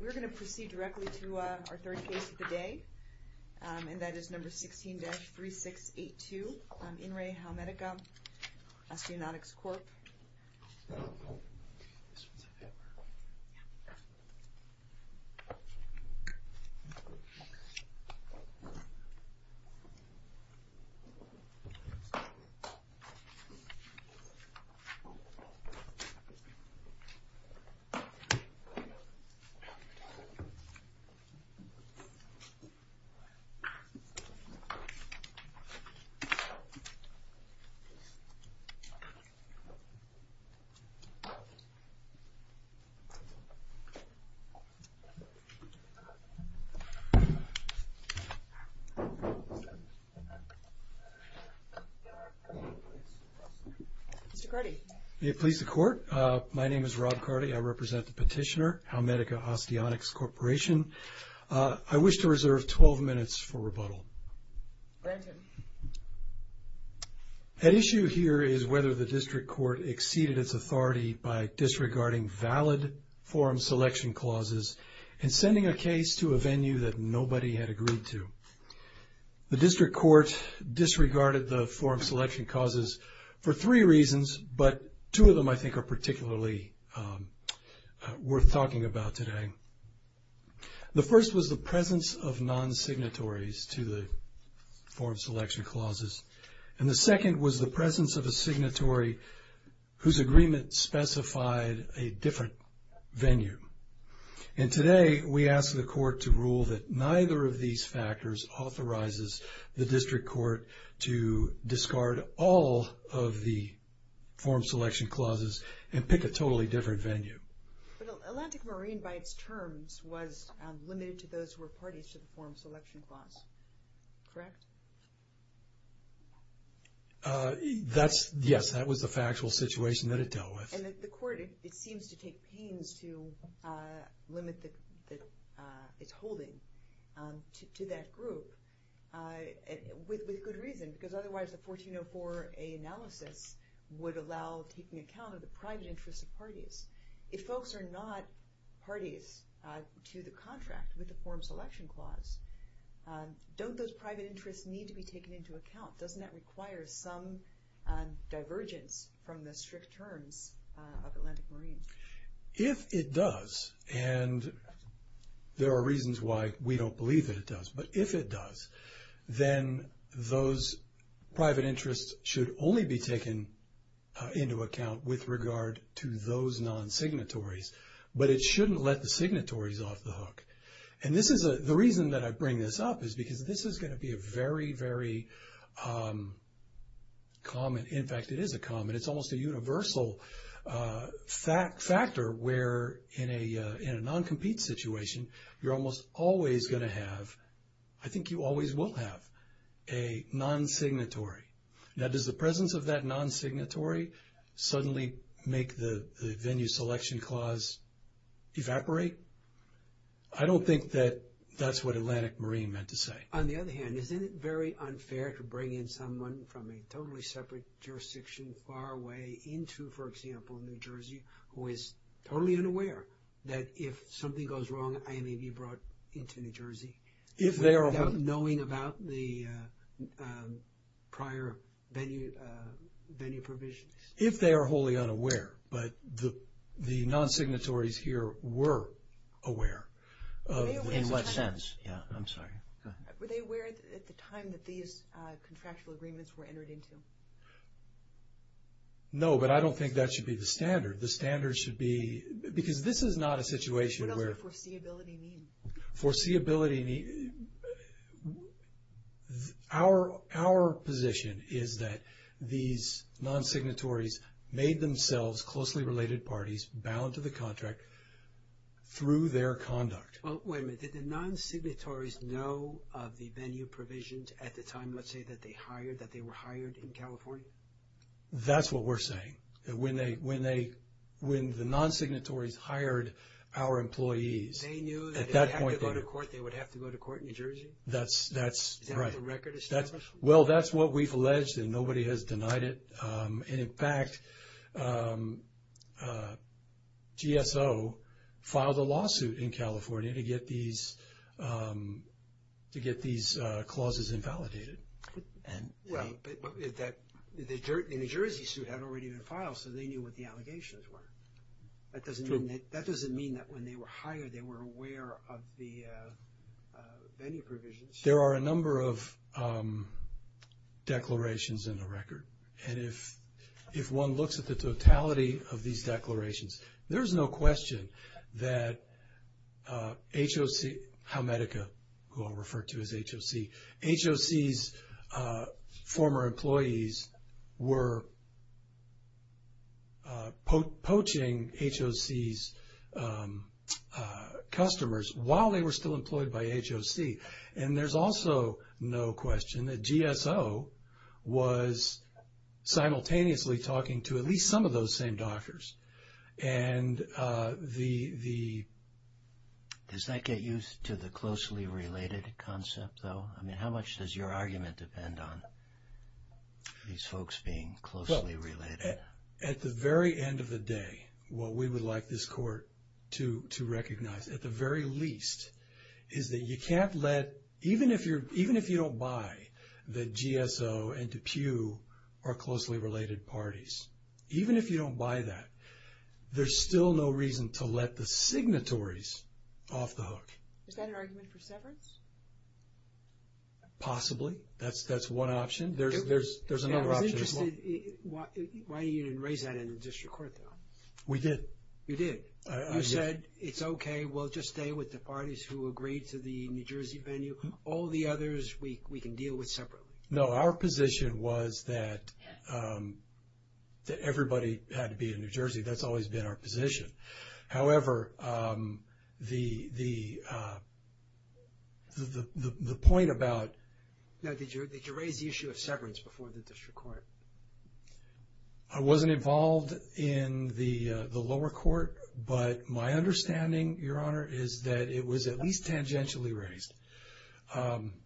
We're going to proceed directly to our third case of the day, and that is number 16-3682 on In Re Howmedica Osteonics Corp. Mr. Carty? May it please the Court? My name is Rob Carty. I represent the petitioner, Howmedica Osteonics Corporation. I wish to reserve 12 minutes for rebuttal. At issue here is whether the district court exceeded its authority by disregarding valid form selection clauses and sending a case to a venue that nobody had agreed to. The district court disregarded the form selection clauses for three reasons, but two of them I think are particularly worth talking about today. The first was the presence of non-signatories to the form selection clauses, and the second was the presence of a signatory whose agreement specified a different venue. And today, we ask the Court to rule that neither of these factors authorizes the district court to discard all of the form selection clauses and pick a totally different venue. Atlantic Marine, by its terms, was limited to those who were parties to the form selection clause, correct? Yes, that was the factual situation that it dealt with. And as the Court, it seems to take pains to limit its holding to that group with good reasons, because otherwise the 1404A analysis would allow taking account of the private interests of parties. If folks are not parties to the contract with the form selection clause, don't those private interests need to be taken into account? Doesn't that require some divergence from the strict terms of Atlantic Marine? If it does, and there are reasons why we don't believe that it does, but if it does, then those private interests should only be taken into account with regard to those non-signatories, but it shouldn't let the signatories off the hook. And the reason that I bring this up is because this is going to be a very, very common, in fact it is a common, it's almost a universal factor where in a non-compete situation you're almost always going to have, I think you always will have, a non-signatory. Now does the presence of that non-signatory suddenly make the venue selection clause evaporate? I don't think that that's what Atlantic Marine meant to say. On the other hand, isn't it very unfair to bring in someone from a totally separate jurisdiction far away into, for example, New Jersey who is totally unaware that if something goes wrong, I may be brought into New Jersey without knowing about the prior venue provisions? If they are wholly unaware, but the non-signatories here were aware. In what sense? Yeah, I'm sorry. Were they aware at the time that these contractual agreements were entered into? No, but I don't think that should be the standard. The standard should be, because this is not a situation where. What does foreseeability mean? Our position is that these non-signatories made themselves closely related parties bound to the contract through their conduct. Wait a minute. Did the non-signatories know of the venue provisions at the time, let's say, that they were hired in California? That's what we're saying. When the non-signatories hired our employees at that point. They knew that if they had to go to court, they would have to go to court in New Jersey? That's right. Do they have the record established? Well, that's what we've alleged, and nobody has denied it. And, in fact, GSO filed a lawsuit in California to get these clauses invalidated. But the New Jersey suit hadn't been filed, so they knew what the allegations were. That doesn't mean that when they were hired, they weren't aware of the venue provisions. There are a number of declarations in the record, and if one looks at the totality of these declarations, there's no question that HOC's former employees were poaching HOC's customers while they were still employed by HOC. And there's also no question that GSO was simultaneously talking to at least some of those same doctors. Does that get used to the closely related concept, though? I mean, how much does your argument depend on these folks being closely related? Well, at the very end of the day, what we would like this court to recognize, at the very least, is that you can't let, even if you don't buy, that GSO and DePue are closely related parties. Even if you don't buy that, there's still no reason to let the signatories off the hook. Is that an argument for severance? Possibly. That's one option. There's another option as well. I'm interested why you didn't raise that in the district court, though. We did. You did. You said, it's okay, we'll just stay with the parties who agreed to the New Jersey venue. All the others we can deal with separately. No, our position was that everybody had to be in New Jersey. That's always been our position. However, the point about – No, did you raise the issue of severance before the district court? I wasn't involved in the lower court, but my understanding, Your Honor, is that it was at least tangentially raised.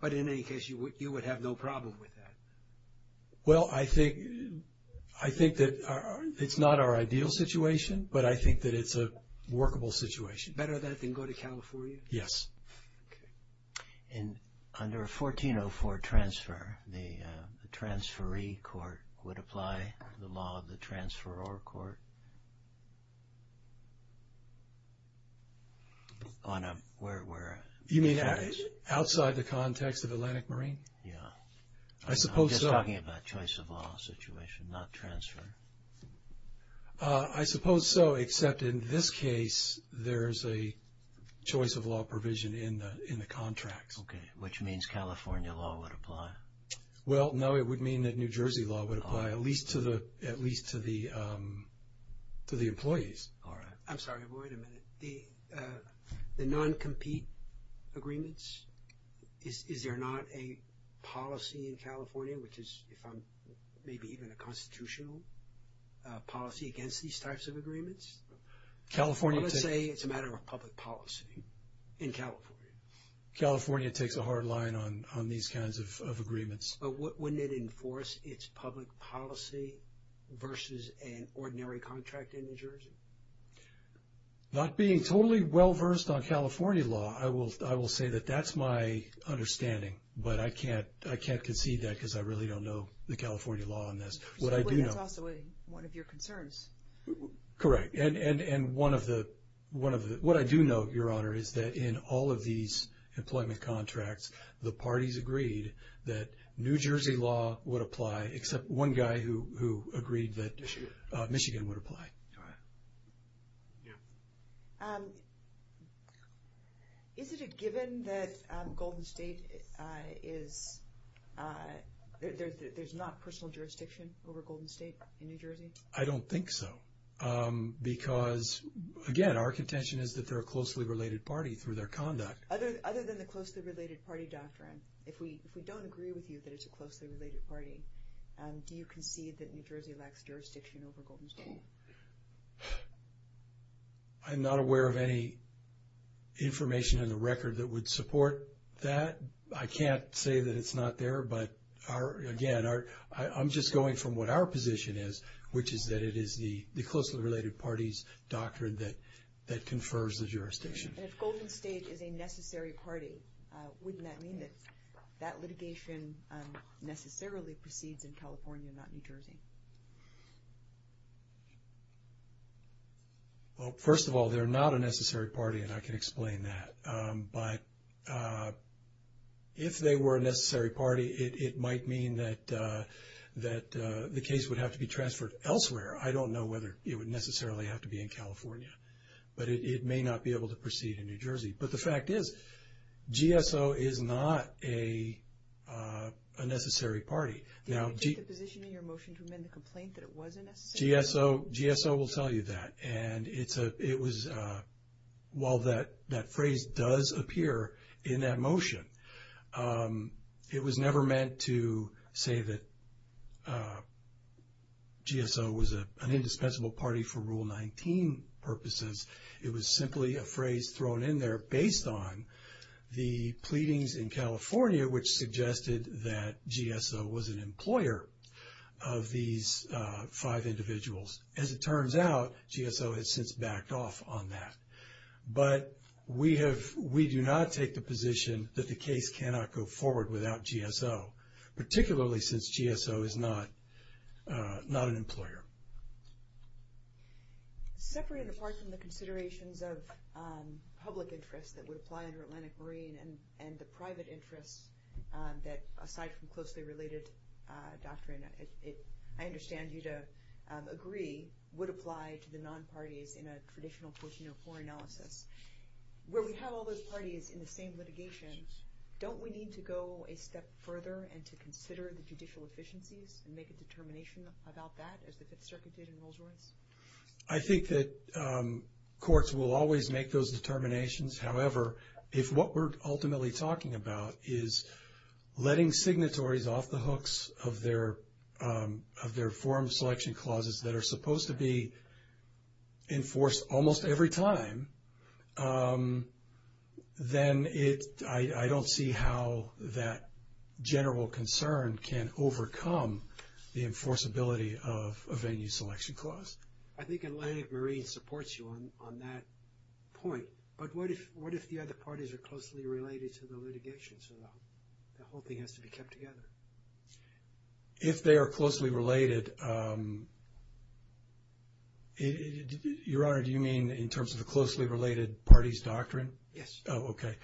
But in any case, you would have no problem with that? Well, I think that it's not our ideal situation, but I think that it's a workable situation. Better that than go to California? Yes. Okay. And under 1404 transfer, the transferee court would apply the law of the transferor court on a – You mean outside the context of Atlantic Marine? Yeah. I suppose so. I'm just talking about choice of law situation, not transfer. I suppose so, except in this case, there's a choice of law provision in the contract. Okay, which means California law would apply. Well, no, it would mean that New Jersey law would apply, at least to the employees. All right. I'm sorry. Wait a minute. The non-compete agreements, is there not a policy in California, which is maybe even a constitutional policy against these types of agreements? California – Let's say it's a matter of public policy in California. California takes a hard line on these kinds of agreements. But wouldn't it enforce its public policy versus an ordinary contract in New Jersey? Not being totally well-versed on California law, I will say that that's my understanding, but I can't concede that because I really don't know the California law on this. What I do know – But that's not one of your concerns. Correct. What I do know, Your Honor, is that in all of these employment contracts, the parties agreed that New Jersey law would apply, except one guy who agreed that Michigan would apply. Is it a given that Golden State is – there's not personal jurisdiction over Golden State in New Jersey? I don't think so because, again, our contention is that they're a closely related party through their conduct. Other than the closely related party doctrine, if we don't agree with you that it's a closely related party, do you concede that New Jersey lacks jurisdiction over Golden State? I'm not aware of any information in the record that would support that. I can't say that it's not there, but, again, I'm just going from what our position is, which is that it is the closely related party's doctrine that confers the jurisdiction. If Golden State is a necessary party, wouldn't that mean that that litigation necessarily proceeds in California, not New Jersey? Well, first of all, they're not a necessary party, and I can explain that. But if they were a necessary party, it might mean that the case would have to be transferred elsewhere. I don't know whether it would necessarily have to be in California. But it may not be able to proceed in New Jersey. But the fact is, GSO is not a necessary party. Now, GSO will tell you that. And while that phrase does appear in that motion, it was never meant to say that GSO was an indispensable party for Rule 19 purposes. It was simply a phrase thrown in there based on the pleadings in California, which suggested that GSO was an employer of these five individuals. As it turns out, GSO has since backed off on that. But we do not take the position that the case cannot go forward without GSO, particularly since GSO is not an employer. Separated apart from the considerations of public interest that would apply under Atlantic Marine and the private interest that, aside from closely related doctrine, I understand you to agree would apply to the non-parties in a traditional court-to-law analysis. Where we have all those parties in the same litigation, don't we need to go a step further and to consider the judicial efficiencies and make a determination about that as it circumstances in Rolls-Royce? I think that courts will always make those determinations. However, if what we're ultimately talking about is letting signatories off the hooks of their forum selection clauses that are supposed to be enforced almost every time, then I don't see how that general concern can overcome the enforceability of a venue selection clause. I think Atlantic Marine supports you on that point. But what if the other parties are closely related to the litigation, so the whole thing has to be kept together? If they are closely related, Your Honor, do you mean in terms of a closely related parties doctrine? Yes. Oh, okay.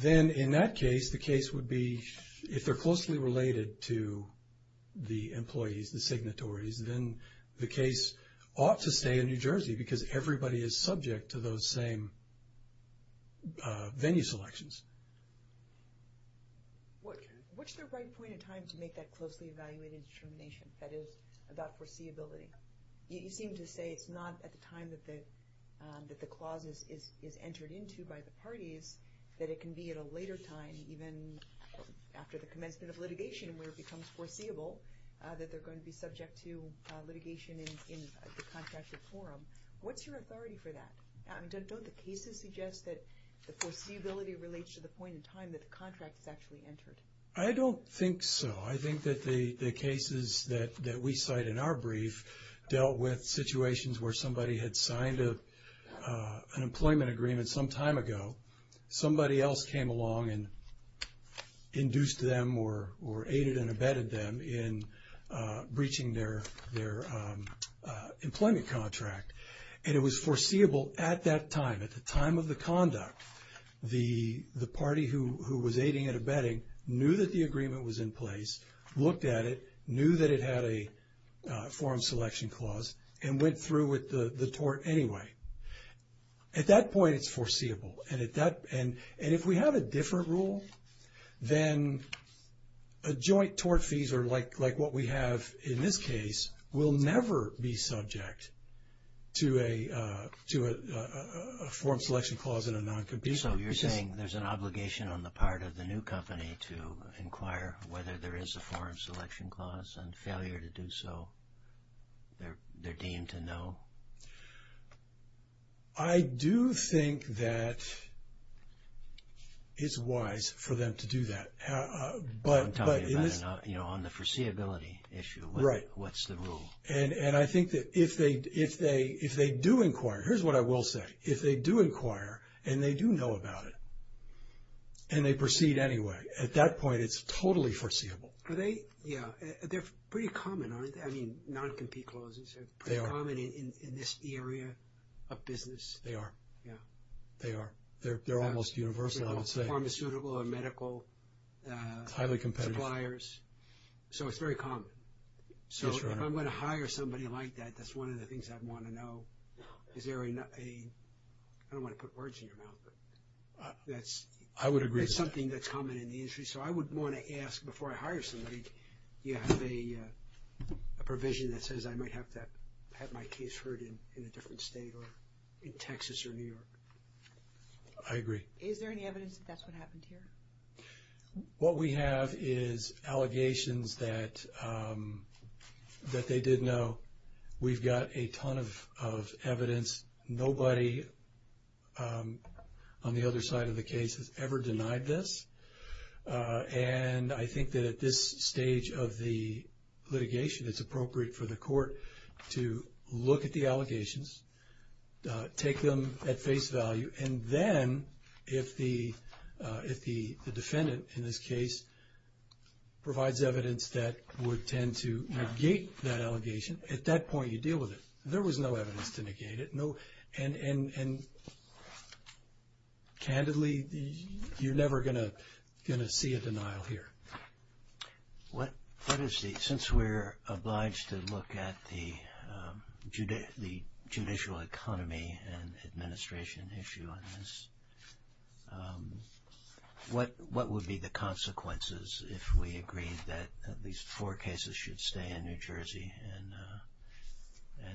Then in that case, the case would be if they're closely related to the employees, the signatories, then the case ought to stay in New Jersey because everybody is subject to those same venue selections. What's the right point in time to make that closely evaluated determination, that is, about foreseeability? You seem to say it's not at the time that the clause is entered into by the parties, that it can be at a later time, even after the commencement of litigation, where it becomes foreseeable that they're going to be subject to litigation in the contractual forum. What's your authority for that? Don't the cases suggest that the foreseeability relates to the point in time that the contract is actually entered? I don't think so. I think that the cases that we cite in our brief dealt with situations where somebody had signed an employment agreement some time ago, somebody else came along and induced them or aided and abetted them in breaching their employment contract, and it was foreseeable at that time. At the time of the conduct, the party who was aiding and abetting knew that the agreement was in place, looked at it, knew that it had a forum selection clause, and went through with the tort anyway. At that point, it's foreseeable. And if we have a different rule, then a joint tort fees, like what we have in this case, will never be subject to a forum selection clause in a noncompetitive case. So you're saying there's an obligation on the part of the new company to inquire whether there is a forum selection clause, and failure to do so, they're deemed to know? I do think that it's wise for them to do that. I'm talking about on the foreseeability issue. Right. What's the rule? And I think that if they do inquire, here's what I will say. If they do inquire and they do know about it and they proceed anyway, at that point, it's totally foreseeable. Yeah. They're pretty common, aren't they? I mean, noncompete clauses are pretty common in this area of business. They are. Yeah. They are. They're almost universal, I would say. Pharmaceutical and medical suppliers. Highly competitive. So it's very common. So if I'm going to hire somebody like that, that's one of the things I'd want to know. Is there a – I don't want to put words in your mouth, but that's something that's common in the industry. So I would want to ask before I hire somebody, do you have any provision that says I might have to have my case heard in a different state or in Texas or New York? I agree. Is there any evidence that that's what happened here? What we have is allegations that they did know. We've got a ton of evidence. Nobody on the other side of the case has ever denied this. And I think that at this stage of the litigation, it's appropriate for the court to look at the allegations, take them at face value, and then if the defendant in this case provides evidence that would tend to negate that allegation, at that point you deal with it. There was no evidence to negate it, no. And candidly, you're never going to see a denial here. What is the – since we're obliged to look at the judicial economy and administration issue on this, what would be the consequences if we agreed that at least four cases should stay in New Jersey and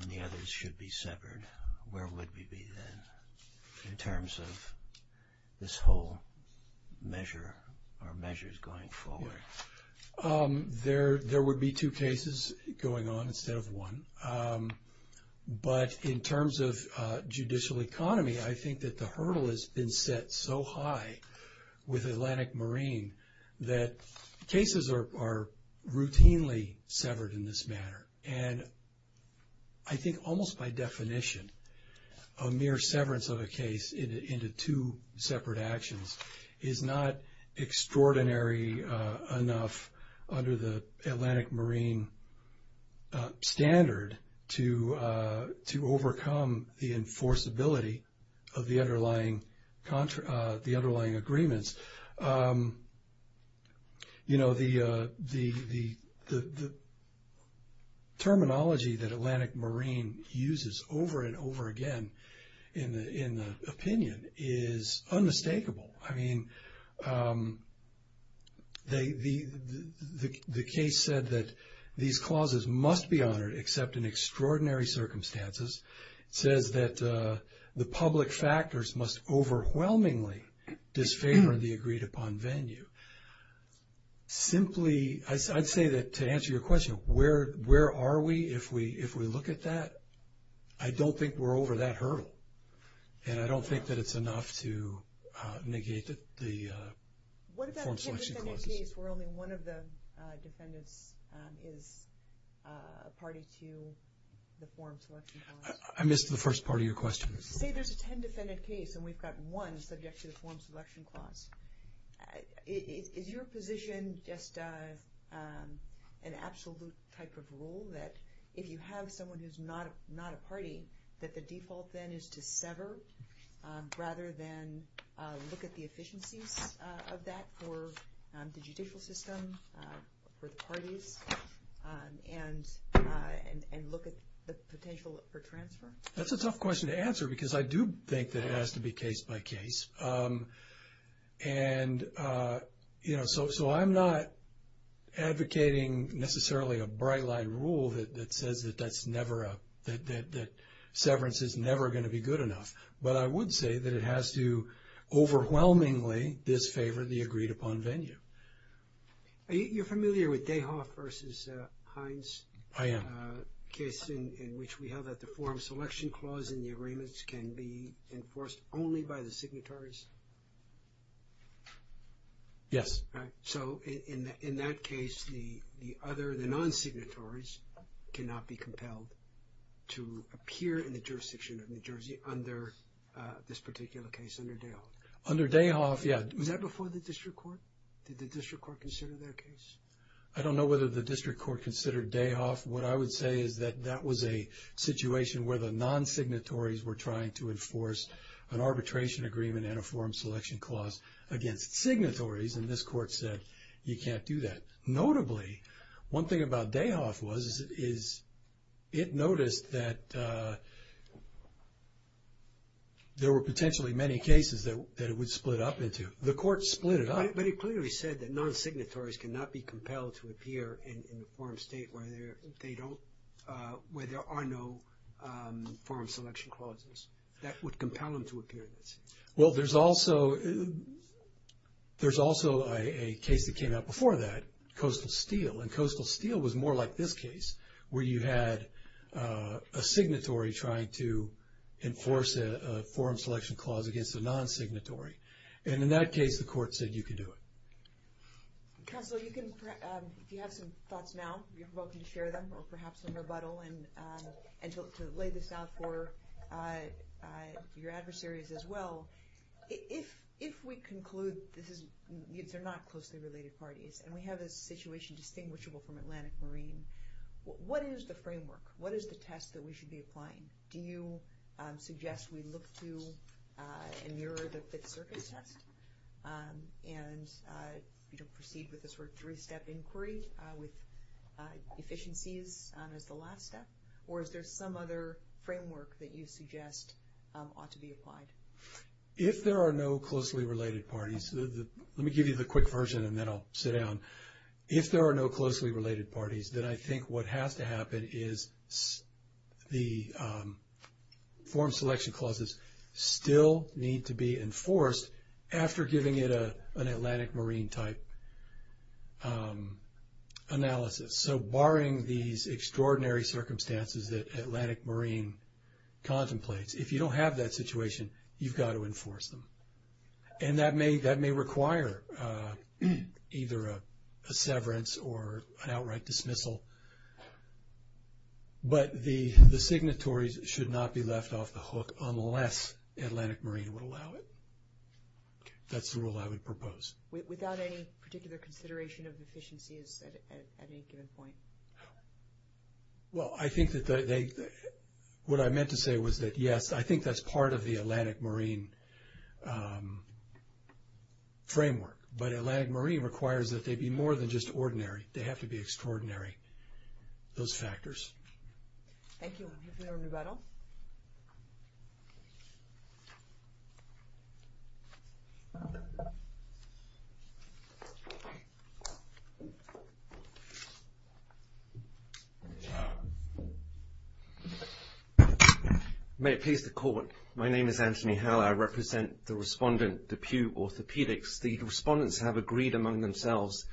the others should be severed? Where would we be then in terms of this whole measure or measures going forward? There would be two cases going on instead of one. But in terms of judicial economy, I think that the hurdle has been set so high with Atlantic Marine that cases are routinely severed in this manner. And I think almost by definition, a mere severance of a case into two separate actions is not extraordinary enough under the Atlantic Marine standard to overcome the enforceability of the underlying agreements. You know, the terminology that Atlantic Marine uses over and over again in the opinion is unmistakable. I mean, the case said that these clauses must be honored except in extraordinary circumstances, said that the public factors must overwhelmingly disfavor the agreed-upon venue. Simply, I'd say that to answer your question, where are we if we look at that? I don't think we're over that hurdle. And I don't think that it's enough to negate the – What about a 10-defendant case where only one of the defendants is a party to the form selection clause? I missed the first part of your question. Say there's a 10-defendant case and we've got one subject to the form selection clause. Is your position just an absolute type of rule that if you have someone who's not a party, that the default then is to sever rather than look at the efficiency of that for the judicial system, for the parties, and look at the potential for transfer? That's a tough question to answer because I do think that it has to be case by case. And, you know, so I'm not advocating necessarily a bright-light rule that says that that's never a – that severance is never going to be good enough. But I would say that it has to overwhelmingly disfavor the agreed-upon venue. Are you familiar with Dayhoff v. Hines? I am. Is there a case in which we have that the form selection clause in the agreements can be enforced only by the signatories? Yes. So in that case, the other, the non-signatories, cannot be compelled to appear in the jurisdiction of New Jersey under this particular case, under Dayhoff? Under Dayhoff, yeah. Was that before the district court? Did the district court consider that case? I don't know whether the district court considered Dayhoff. What I would say is that that was a situation where the non-signatories were trying to enforce an arbitration agreement and a form selection clause against signatories, and this court said you can't do that. Notably, one thing about Dayhoff was is it noticed that there were potentially many cases that it would split up into. The court split it up. But it clearly said that non-signatories cannot be compelled to appear in a foreign state where there are no form selection clauses. That would compel them to appear. Well, there's also a case that came out before that, Coastal Steel, and Coastal Steel was more like this case where you had a signatory trying to enforce a form selection clause against a non-signatory, and in that case the court said you can do it. Counsel, you have some thoughts now. You're welcome to share them or perhaps rebuttal and sort of lay this out for your adversaries as well. If we conclude they're not closely related parties and we have a situation distinguishable from Atlantic Marine, what is the framework? What is the test that we should be applying? Do you suggest we look to mirror the circuit test and proceed with a sort of three-step inquiry with efficiencies as the last step? Or is there some other framework that you suggest ought to be applied? If there are no closely related parties, let me give you the quick version and then I'll sit down. If there are no closely related parties, then I think what has to happen is the form selection clauses still need to be enforced after giving it an Atlantic Marine type analysis. So barring these extraordinary circumstances that Atlantic Marine contemplates, if you don't have that situation, you've got to enforce them. And that may require either a severance or an outright dismissal. But the signatories should not be left off the hook unless Atlantic Marine would allow it. That's the rule I would propose. Without any particular consideration of efficiencies at any given point? Well, I think that they – what I meant to say was that, yes, I think that's part of the Atlantic Marine framework. But Atlantic Marine requires that they be more than just ordinary. They have to be extraordinary, those factors. Thank you. Is there anybody else? May it please the Court, my name is Anthony Howe. I represent the respondent, the Pew Orthopedics. The respondents have agreed among themselves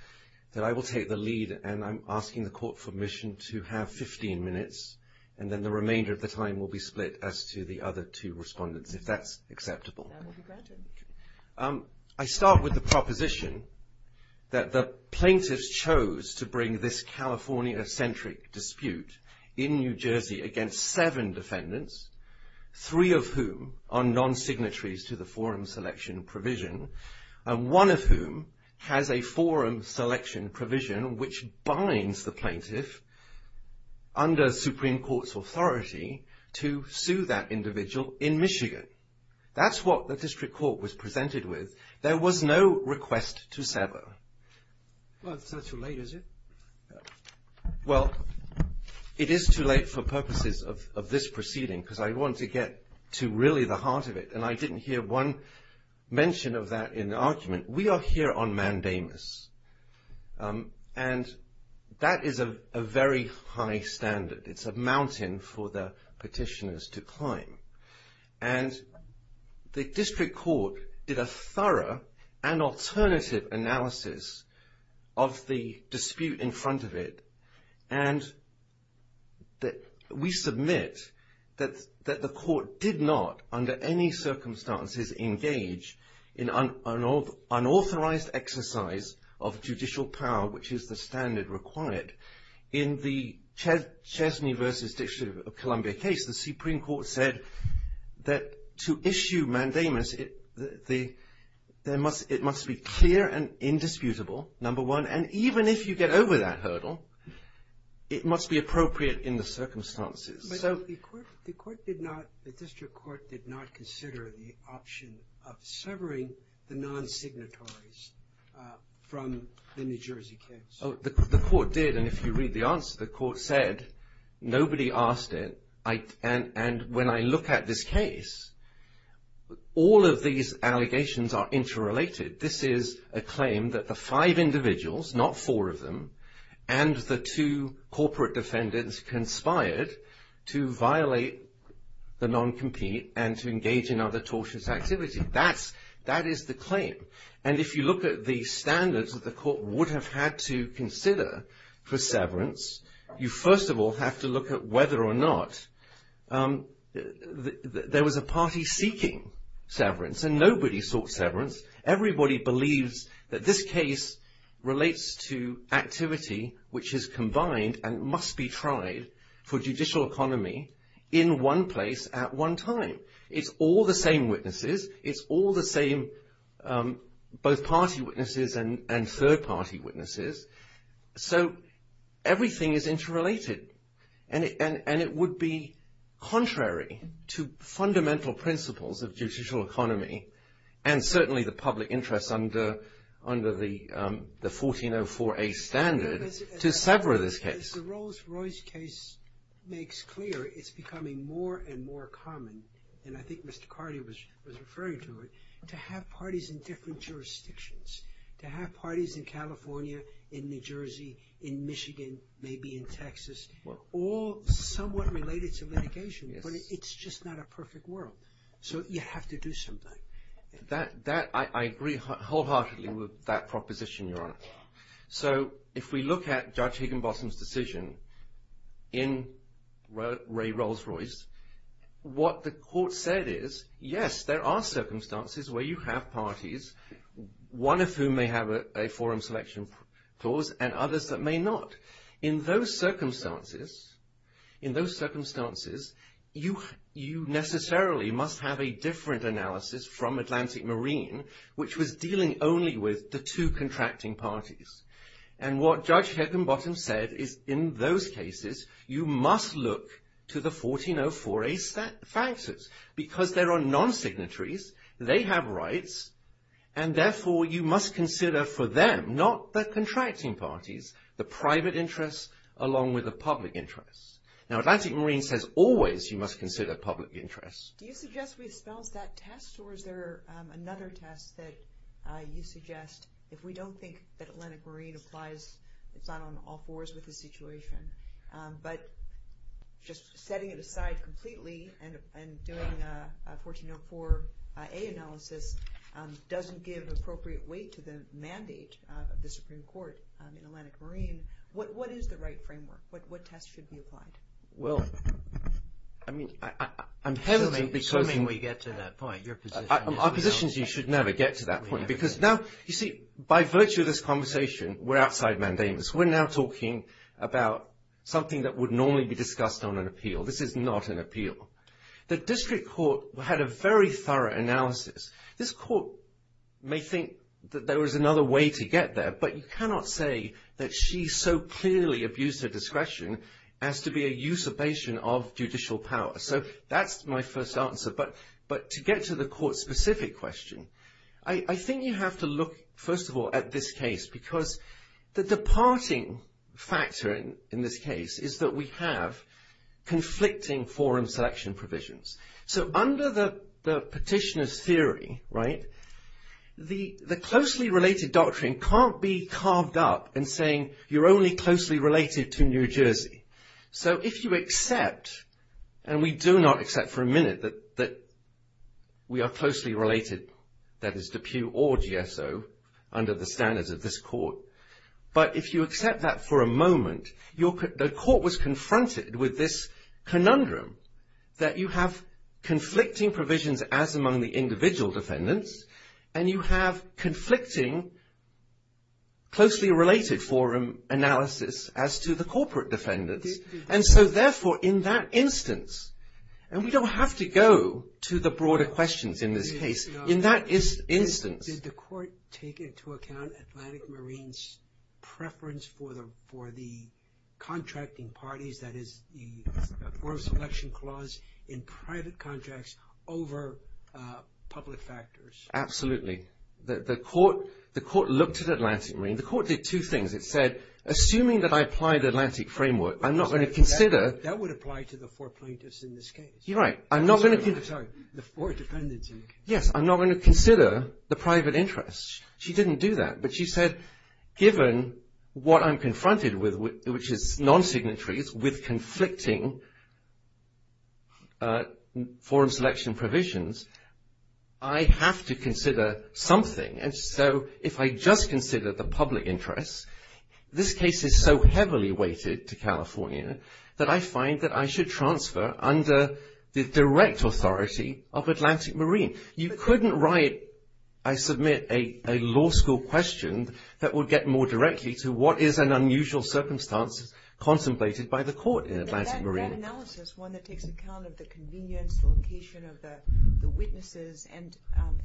that I will take the lead and I'm asking the Court for permission to have 15 minutes. And then the remainder of the time will be split as to the other two respondents, if that's acceptable. That will be granted. I start with the proposition that the plaintiffs chose to bring this California-centric dispute in New Jersey against seven defendants, three of whom are non-signatories to the forum selection provision, and one of whom has a forum selection provision which binds the plaintiff under Supreme Court's authority to sue that individual in Michigan. That's what the District Court was presented with. There was no request to sever. Well, it's not too late, is it? Well, it is too late for purposes of this proceeding because I want to get to really the heart of it. And I didn't hear one mention of that in the argument. We are here on mandamus, and that is a very high standard. It's a mountain for the petitioners to climb. And the District Court is a thorough and alternative analysis of the dispute in front of it. And we submit that the court did not, under any circumstances, engage in an unauthorized exercise of judicial power, which is the standard required. In the Chesney v. Dictionary of Columbia case, the Supreme Court said that to issue mandamus, it must be clear and indisputable, number one, and even if you get over that hurdle, it must be appropriate in the circumstances. But the court did not, the District Court did not consider the option of severing the non-signatories from the New Jersey case. The court did, and if you read the answer, the court said nobody asked it. And when I look at this case, all of these allegations are interrelated. This is a claim that the five individuals, not four of them, and the two corporate defendants conspired to violate the non-compete and to engage in other tortious activities. That is the claim. And if you look at the standards that the court would have had to consider for severance, you first of all have to look at whether or not there was a party seeking severance. And nobody sought severance. Everybody believes that this case relates to activity which is combined and must be tried for judicial economy in one place at one time. It's all the same witnesses. It's all the same, both party witnesses and third party witnesses. So, everything is interrelated. And it would be contrary to fundamental principles of judicial economy and certainly the public interest under the 1404A standard to sever this case. The Rolls-Royce case makes clear it's becoming more and more common, and I think Mr. Carney was referring to it, to have parties in different jurisdictions, to have parties in California, in New Jersey, in Michigan, maybe in Texas, all somewhat related to litigation, but it's just not a perfect world. So, you have to do something. I agree wholeheartedly with that proposition, Your Honor. So, if we look at Judge Higginbotham's decision in Ray Rolls-Royce, what the court said is, yes, there are circumstances where you have parties. One of whom may have a forum selection clause and others that may not. In those circumstances, you necessarily must have a different analysis from Atlantic Marine, which was dealing only with the two contracting parties. And what Judge Higginbotham said is, in those cases, you must look to the 1404A factors, because there are non-signatories, they have rights, and therefore you must consider for them, not the contracting parties, the private interests along with the public interests. Now, Atlantic Marine says always you must consider public interests. Do you suggest we dispel that test, or is there another test that you suggest, if we don't think that Atlantic Marine applies the final on all fours of the situation? But just setting it aside completely and doing a 1404A analysis doesn't give appropriate weight to the mandate of the Supreme Court in Atlantic Marine. What is the right framework? What test should be applied? Well, I mean, I'm hesitant because... Soon we get to that point. Our position is you should never get to that point. Because now, you see, by virtue of this conversation, we're outside mandates. We're now talking about something that would normally be discussed on an appeal. This is not an appeal. The district court had a very thorough analysis. This court may think that there was another way to get there, but you cannot say that she so clearly abused her discretion as to be a usurpation of judicial power. So that's my first answer. But to get to the court-specific question, I think you have to look, first of all, at this case, because the departing factor in this case is that we have conflicting forum selection provisions. So under the petitioner's theory, right, the closely related doctrine can't be carved up in saying you're only closely related to New Jersey. So if you accept, and we do not accept for a minute that we are closely related, that is, to Pew or GSO, under the standards of this court, but if you accept that for a moment, the court was confronted with this conundrum that you have conflicting provisions as among the individual defendants and you have conflicting closely related forum analysis as to the corporate defendants. And so, therefore, in that instance, and we don't have to go to the broader questions in this case, in that instance... Did the court take into account Atlantic Marine's preference for the contracting parties, that is, the forum selection clause in private contracts over public factors? Absolutely. The court looked at Atlantic Marine. The court did two things. It said, assuming that I apply the Atlantic framework, I'm not going to consider... That would apply to the four plaintiffs in this case. You're right. I'm not going to... Sorry, the four defendants. Yes, I'm not going to consider the private interest. She didn't do that, but she said, given what I'm confronted with, which is non-signatories with conflicting forum selection provisions, I have to consider something. And so, if I just consider the public interest, this case is so heavily weighted to California that I find that I should transfer under the direct authority of Atlantic Marine. You couldn't write, I submit, a law school question that would get more directly to what is an unusual circumstance contemplated by the court in Atlantic Marine. That analysis, one that takes account of the convenience, the location of the witnesses and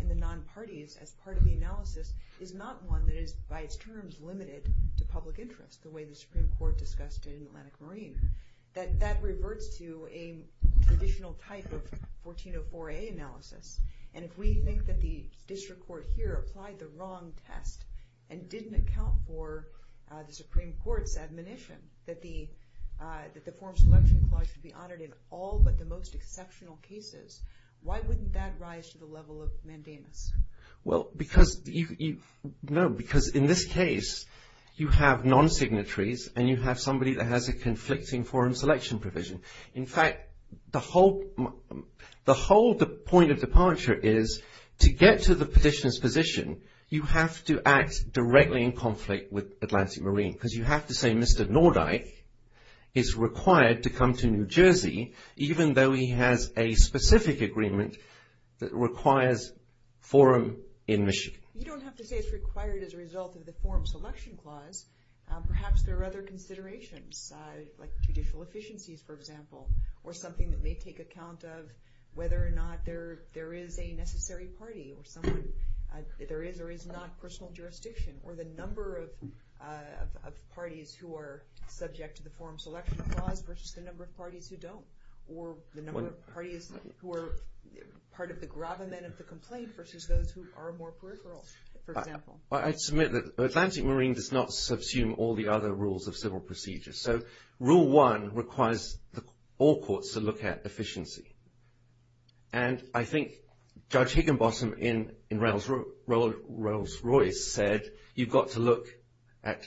the non-parties as part of the analysis, is not one that is, by its terms, limited to public interest, the way the Supreme Court discussed in Atlantic Marine. That reverts to a traditional type of 1404A analysis. And if we think that the district court here applied the wrong test and didn't account for the Supreme Court's admonition that the forum selection clause should be audited all but the most exceptional cases, why wouldn't that rise to the level of mandamus? Well, because in this case you have non-signatories and you have somebody that has a conflicting forum selection provision. In fact, the whole point of departure is to get to the petitioner's position, you have to act directly in conflict with Atlantic Marine. Because you have to say Mr. Nordyke is required to come to New Jersey, even though he has a specific agreement that requires forum admission. You don't have to say it's required as a result of the forum selection clause. Perhaps there are other considerations like judicial efficiencies, for example, or something that may take account of whether or not there is a necessary party or there is or is not personal jurisdiction or the number of parties who are subject to the forum selection clause versus the number of parties who don't. Or the number of parties who are part of the gravamen of the complaint versus those who are more political, for example. I submit that Atlantic Marine does not subsume all the other rules of civil procedure. So, rule one requires all courts to look at efficiency. And I think Judge Higginbotham in Rolls-Royce said you've got to look at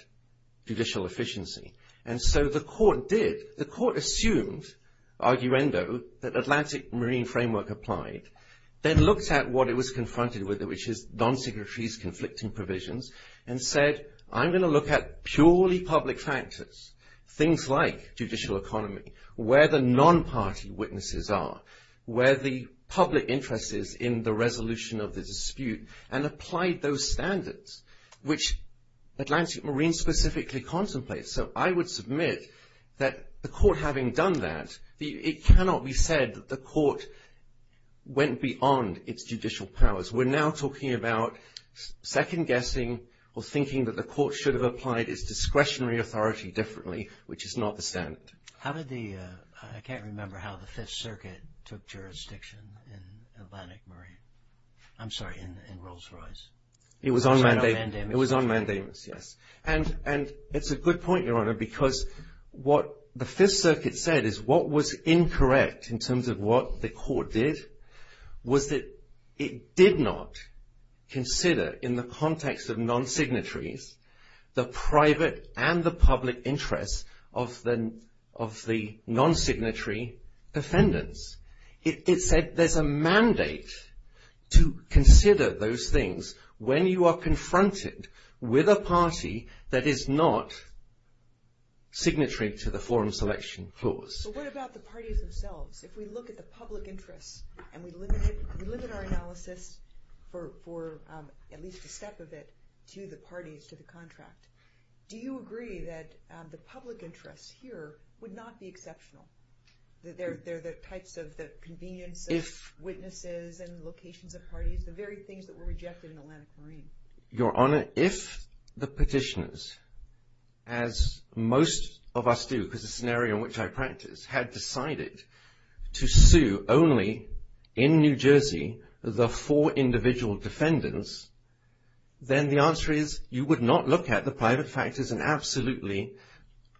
judicial efficiency. And so the court did. The court assumed, arguendo, that Atlantic Marine framework applied and looked at what it was confronted with, which is non-secretary's conflicting provisions, and said I'm going to look at purely public practice, things like judicial economy, where the non-party witnesses are, where the public interest is in the resolution of the dispute, and applied those standards which Atlantic Marine specifically contemplates. So, I would submit that the court having done that, it cannot be said that the court went beyond its judicial powers. We're now talking about second-guessing or thinking that the court should have applied its discretionary authority differently, which is not the standard. I can't remember how the Fifth Circuit took jurisdiction in Atlantic Marine. I'm sorry, in Rolls-Royce. It was on mandamus. It was on mandamus, yes. And it's a good point, Your Honor, because what the Fifth Circuit said is what was incorrect in terms of what the court did was that it did not consider in the context of non-signatories the private and the public interest of the non-signatory defendants. It said there's a mandate to consider those things when you are confronted with a party that is not signatory to the forum selection clause. But what about the parties themselves? If we look at the public interest and we look at our analysis for at least a step of it to the parties, to the contract, do you agree that the public interest here would not be exceptional? There are the types of convenience, the witnesses and locations of parties, the very things that were rejected in Atlantic Marine. Your Honor, if the petitioners, as most of us do, because it's an area in which I practice, had decided to sue only in New Jersey the four individual defendants, then the answer is you would not look at the private factors and absolutely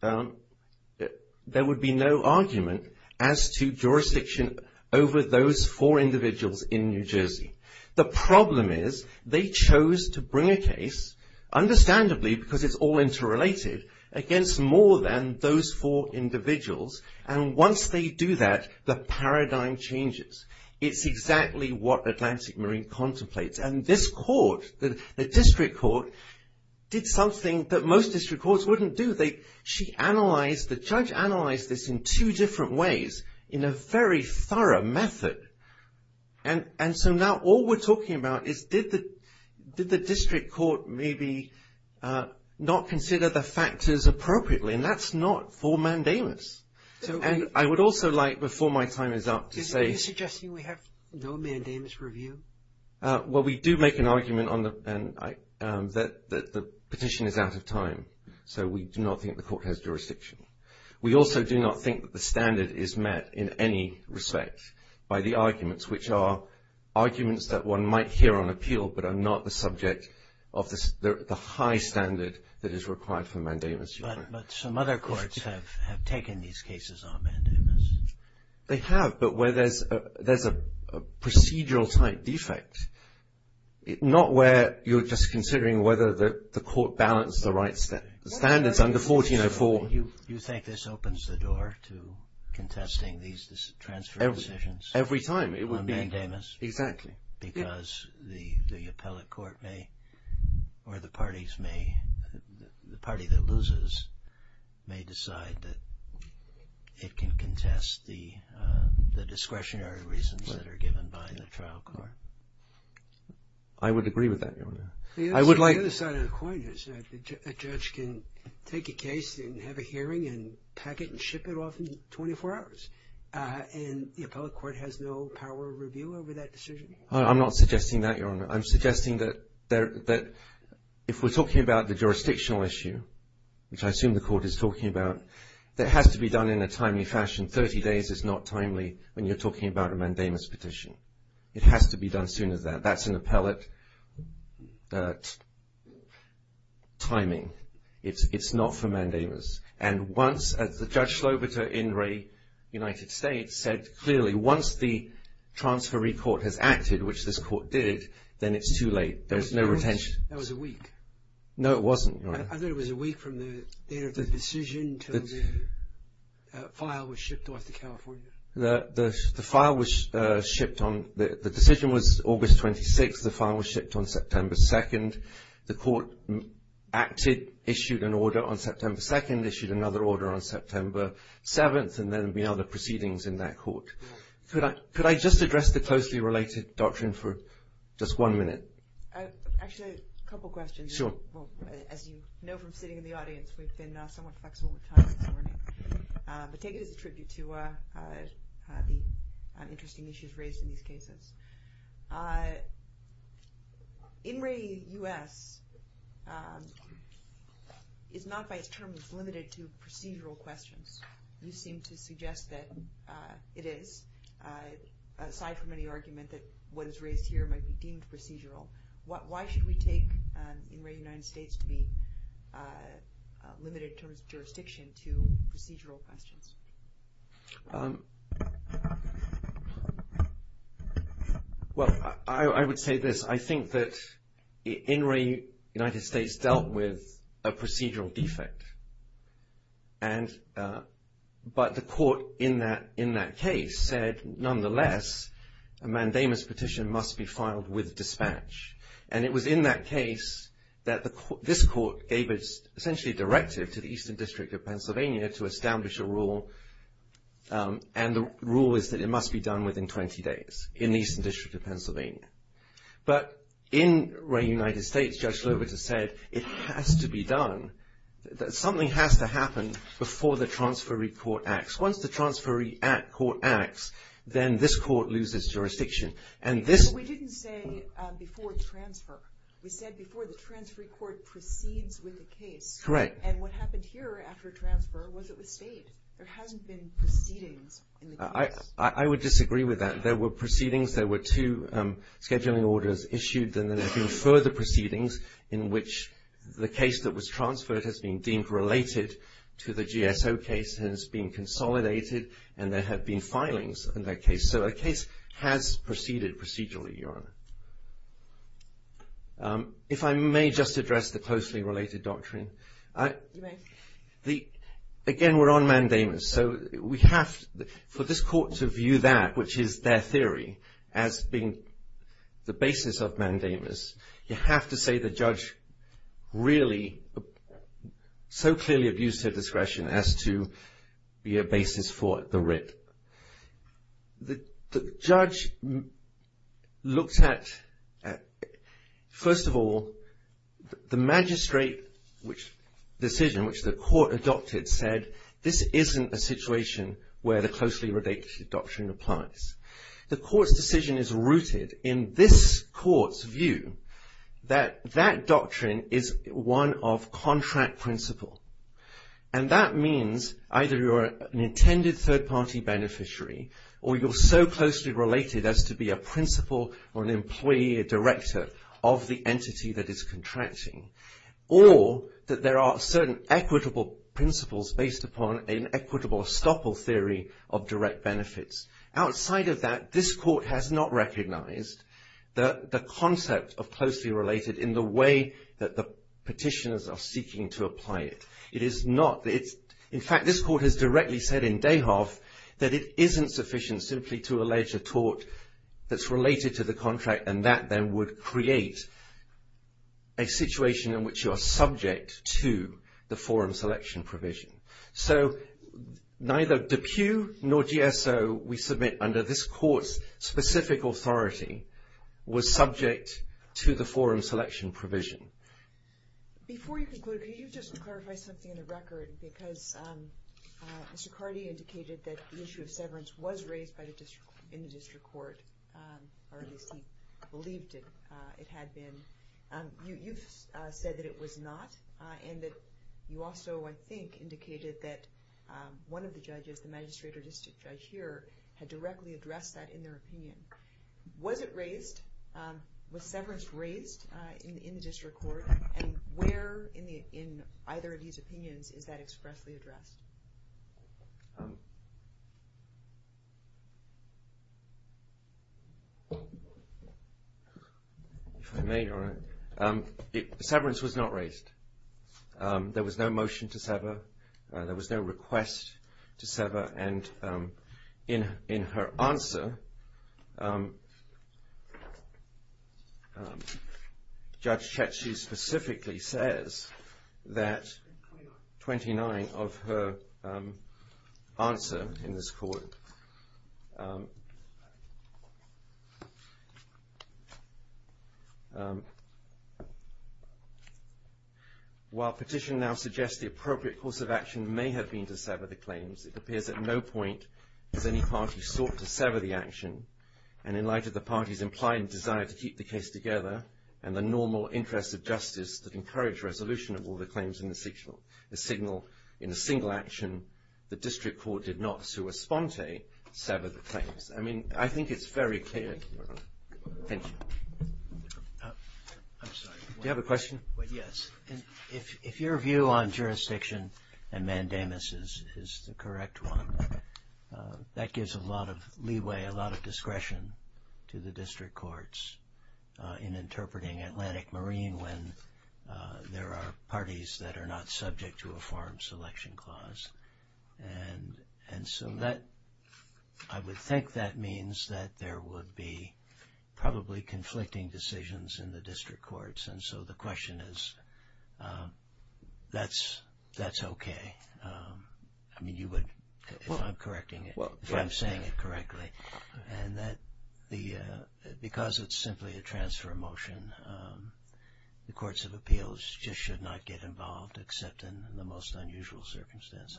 there would be no argument as to jurisdiction over those four individuals in New Jersey. The problem is they chose to bring a case, understandably because it's all interrelated, against more than those four individuals and once they do that the paradigm changes. It's exactly what Atlantic Marine contemplates and this court, the district court, did something that most district courts wouldn't do. She analyzed, the judge analyzed this in two different ways in a very thorough method and so now all we're talking about is did the district court maybe not consider the factors appropriately and that's not for mandamus. I would also like, before my time is up, to say... Are you suggesting we have no mandamus review? Well, we do make an argument that the petition is out of time so we do not think the court has jurisdiction. We also do not think that the standard is met in any respect by the arguments which are arguments that one might hear on appeal but are not the subject of the high standard that is required for mandamus. But some other courts have taken these cases on mandamus. They have, but where there's a procedural type defect, not where you're just considering whether the court balanced the right standards under 1404. Do you think this opens the door to contesting these transfer decisions? Every time. On mandamus? Exactly. Because the appellate court may, or the parties may, the party that loses may decide that it can contest the discretionary reasons that are given by the trial court. I would agree with that. The other side of the coin is that a judge can take a case and have a hearing and pack it and ship it off in 24 hours and the appellate court has no power of review over that decision. I'm not suggesting that, Your Honor. I'm suggesting that if we're talking about the jurisdictional issue, which I assume the court is talking about, that has to be done in a timely fashion. 30 days is not timely when you're talking about a mandamus petition. It has to be done sooner than that. That's an appellate timing. It's not for mandamus. And once, as Judge Slobeta in Ray, United States, said clearly, once the transferee court has acted, which this court did, then it's too late. There's no retention. That was a week. No, it wasn't, Your Honor. I thought it was a week from the date of the decision until the file was shipped off to California. The decision was August 26th. The file was shipped on September 2nd. The court acted, issued an order on September 2nd, issued another order on September 7th, and then there'd be other proceedings in that court. Could I just address the closely related doctrine for just one minute? Actually, a couple questions. As you know from sitting in the audience, we've been somewhat flexible with time. I take it as a tribute to the interesting issues raised in these cases. In Ray, U.S., it's not by its terms limited to procedural questions. These seem to suggest that it is, aside from any argument that what is raised here might be deemed procedural, why should we take in Ray, United States, to be limited in terms of jurisdiction to procedural questions? Well, I would say this. I think that in Ray, United States dealt with a procedural defect. But the court in that case said, nonetheless, a mandamus petition must be filed with dispatch. And it was in that case that this court gave us essentially a directive to the Eastern District of Pennsylvania to establish a rule, and the rule is that it must be done within 20 days in the Eastern District of Pennsylvania. But in Ray, United States, Judge Slovis has said it has to be done, that something has to happen before the transferee court acts. Once the transferee court acts, then this court loses jurisdiction. We didn't say before transfer. We said before the transferee court proceeds with the case. Correct. And what happened here after transfer was it was state. There hasn't been proceedings in the case. I would disagree with that. There were proceedings. There were two scheduling orders issued, and then there have been further proceedings in which the case that was transferred has been deemed related to the GSO case, has been consolidated, and there have been filings in that case. So a case has proceeded procedurally. If I may just address the closely related doctrine. Again, we're on mandamus, so we have for this court to view that, which is their theory as being the basis of mandamus, you have to say the judge really so clearly abused her discretion as to be a basis for the writ. The judge looked at, first of all, the magistrate decision which the court adopted said, this isn't a situation where the closely related doctrine applies. The court's decision is rooted in this court's view that that doctrine is one of contract principle. And that means either you're an intended third-party beneficiary, or you're so closely related as to be a principal or an employee, a director of the entity that is contracting, or that there are certain equitable principles based upon an equitable estoppel theory of direct benefits. Outside of that, this court has not recognized the concept of closely related in the way that the petitioners are seeking to apply it. It is not. In fact, this court has directly said in Dayhoff that it isn't sufficient simply to allege a tort that's related to the contract, and that then would create a situation in which you are subject to the forum selection provision. So, neither DePue nor GSO we submit under this court's specific authority was subject to the forum selection provision. Before you conclude, can you just clarify something in the record? Because Mr. Carty indicated that the issue of severance was raised in the district court, or that he believed it had been. You said that it was not, and that you also, I think, indicated that one of the judges, the magistrate or district judge here, had directly addressed that in their opinion. Was it raised? Was severance raised in the district court? And where in either of these opinions is that expressly addressed? If I may, Your Honor, severance was not raised. There was no motion to sever. There was no request to sever. And in her answer, Judge Chetsky specifically says that 29 of her answers in this court, while petition now suggests the appropriate course of action may have been to sever the claims, it appears at no point have any parties sought to sever the action. And in light of the parties' implied desire to keep the case together and the normal interest of justice that encouraged resolution of all the claims in the signal, in a single action, the district court did not, sur response, sever the claims. I mean, I think it's very clear. Thank you. Do you have a question? Yes. If your view on jurisdiction and mandamus is the correct one, that gives a lot of leeway, a lot of discretion to the district courts in interpreting Atlantic Marine when there are parties that are not subject to a foreign selection clause. And so I would think that means that there would be probably conflicting decisions in the district courts. And so the question is, that's okay. I mean, you would, if I'm correcting it, if I'm saying it correctly, and that because it's simply a transfer motion, the courts of appeals just should not get involved except in the most unusual circumstances.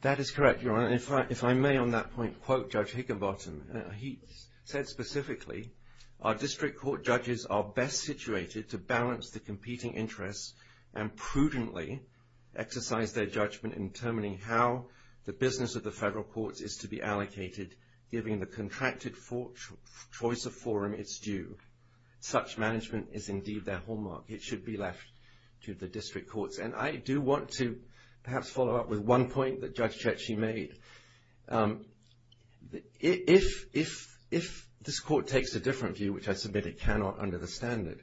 That is correct, Your Honor. If I may on that point quote Judge Higginbottom. He said specifically, our district court judges are best situated to balance the competing interests and prudently exercise their judgment in determining how the business of the federal courts is to be allocated, given the contracted choice of forum it's due. Such management is indeed their hallmark. It should be left to the district courts. And I do want to perhaps follow up with one point that Judge Chechi made. If this court takes a different view, which I submit it cannot under the standard,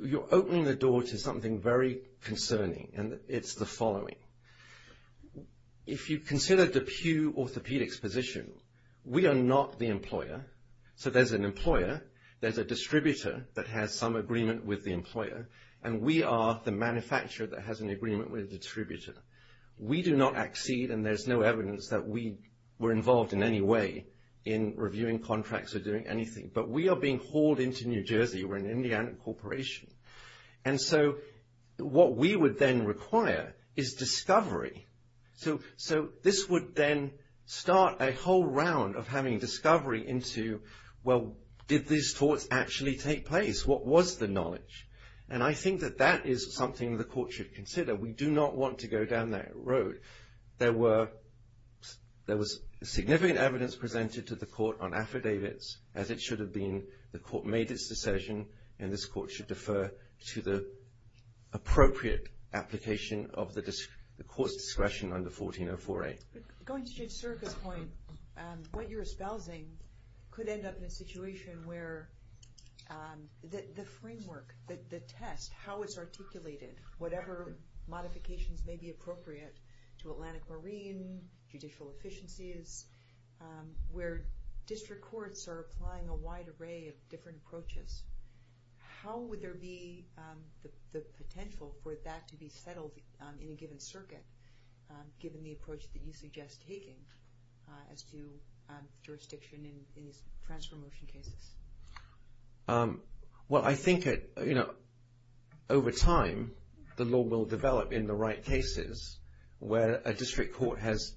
you're opening the door to something very concerning, and it's the following. If you consider the Pew Orthopedics position, we are not the employer. So there's an employer, there's a distributor that has some agreement with the employer, and we are the manufacturer that has an agreement with the distributor. We do not accede, and there's no evidence that we were involved in any way in reviewing contracts or doing anything. But we are being hauled into New Jersey. We're an Indiana corporation. And so what we would then require is discovery. So this would then start a whole round of having discovery into, well, did this court actually take place? What was the knowledge? And I think that that is something the court should consider. We do not want to go down that road. There was significant evidence presented to the court on affidavits, as it should have been. The court made its decision, and this court should defer to the appropriate application of the court's discretion under 1404A. Going to Jim's circuit point, what you're espousing could end up in a situation where the framework, the test, how it's articulated, whatever modifications may be appropriate to Atlantic Marines, judicial efficiencies, where district courts are applying a wide array of different approaches, how would there be the potential for that to be settled in a given circuit, given the approach that you suggest taking as to jurisdiction in transfer motion cases? Well, I think, you know, over time, the law will develop in the right cases where a district court has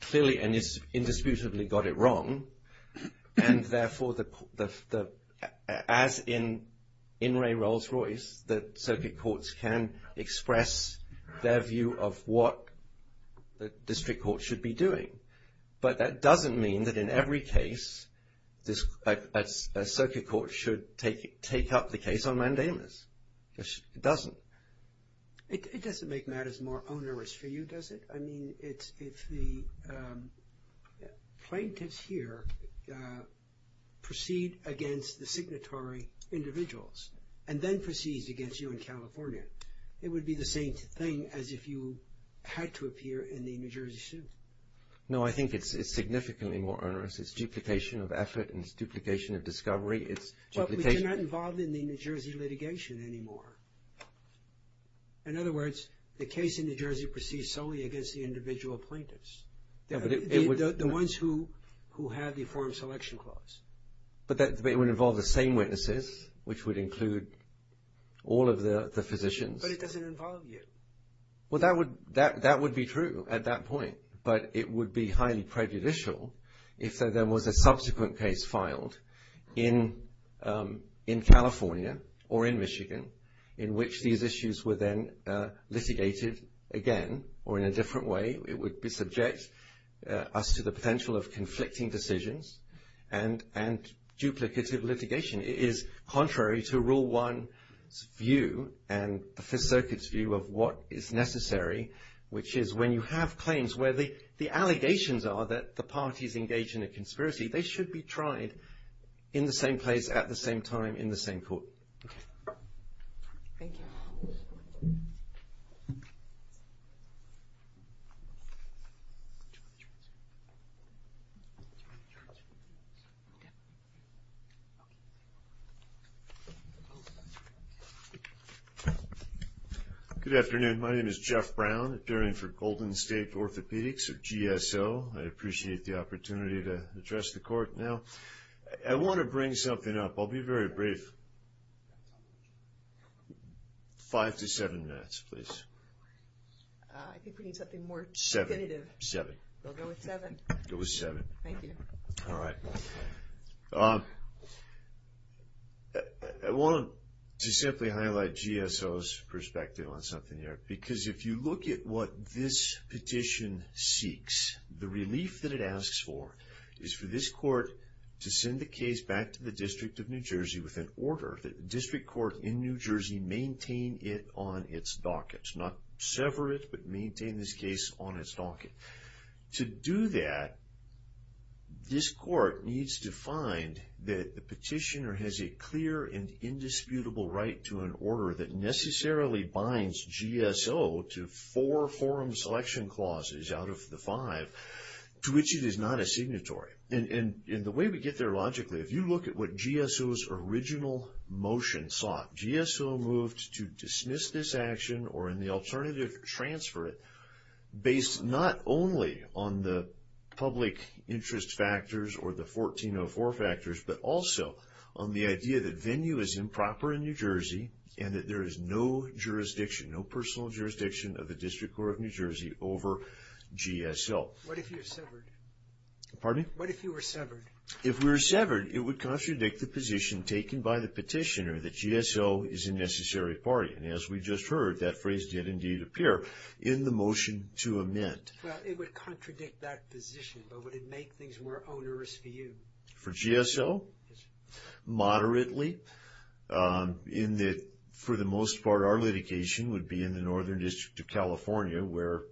clearly and indisputably got it wrong, and therefore, as in In re Rolls-Royce, the circuit courts can express their view of what the district court should be doing. But that doesn't mean that in every case, a circuit court should take up the case on mandamus. It doesn't. It doesn't make matters more onerous for you, does it? I mean, if the plaintiffs here proceed against the signatory individuals, and then proceed against you in California, it would be the same thing as if you had to appear in the New Jersey suit. No, I think it's significantly more onerous. It's duplication of effort and it's duplication of discovery. But we're not involved in the New Jersey litigation anymore. In other words, the case in New Jersey proceeds solely against the individual plaintiffs, the ones who have the Foreign Selection Clause. But it would involve the same witnesses, which would include all of the physicians. But it doesn't involve you. Well, that would be true at that point, but it would be highly prejudicial if there then was a subsequent case filed in California or in Michigan, in which these issues were then litigated again or in a different way. It would subject us to the potential of conflicting decisions and duplicative litigation. It is contrary to Rule 1's view and the Fifth Circuit's view of what is necessary, which is when you have claims where the allegations are that the parties engaged in a conspiracy, they should be tried in the same place at the same time in the same court. Thank you. Good afternoon. My name is Jeff Brown, attorney for Golden State Orthopedics at GSO. I appreciate the opportunity to address the court now. I want to bring something up. I'll be very brief. Five to seven minutes, please. I think we need something more definitive. Seven. We'll go with seven. We'll go with seven. Thank you. All right. I want to simply highlight GSO's perspective on something here, because if you look at what this petition seeks, the relief that it asks for is for this court to send the case back to the District of New Jersey with an order that the district court in New Jersey maintain it on its docket. Not sever it, but maintain this case on its docket. To do that, this court needs to find that the petitioner has a clear and indisputable right to an order that necessarily binds GSO to four forum selection clauses out of the five to which it is not a signatory. And the way we get there logically, if you look at what GSO's original motion sought, GSO moved to dismiss this action or, in the alternative, transfer it based not only on the public interest factors or the 1404 factors, but also on the idea that venue is improper in New Jersey and that there is no jurisdiction, no personal jurisdiction of the District Court of New Jersey over GSO. What if you severed? Pardon? What if you were severed? If we were severed, it would contradict the position taken by the petitioner that GSO is a necessary party. And as we just heard, that phrase did indeed appear in the motion to amend. It would contradict that position, but would it make things more onerous for you? For GSO? Yes. Moderately. For the most part, our litigation would be in the Northern District of California, where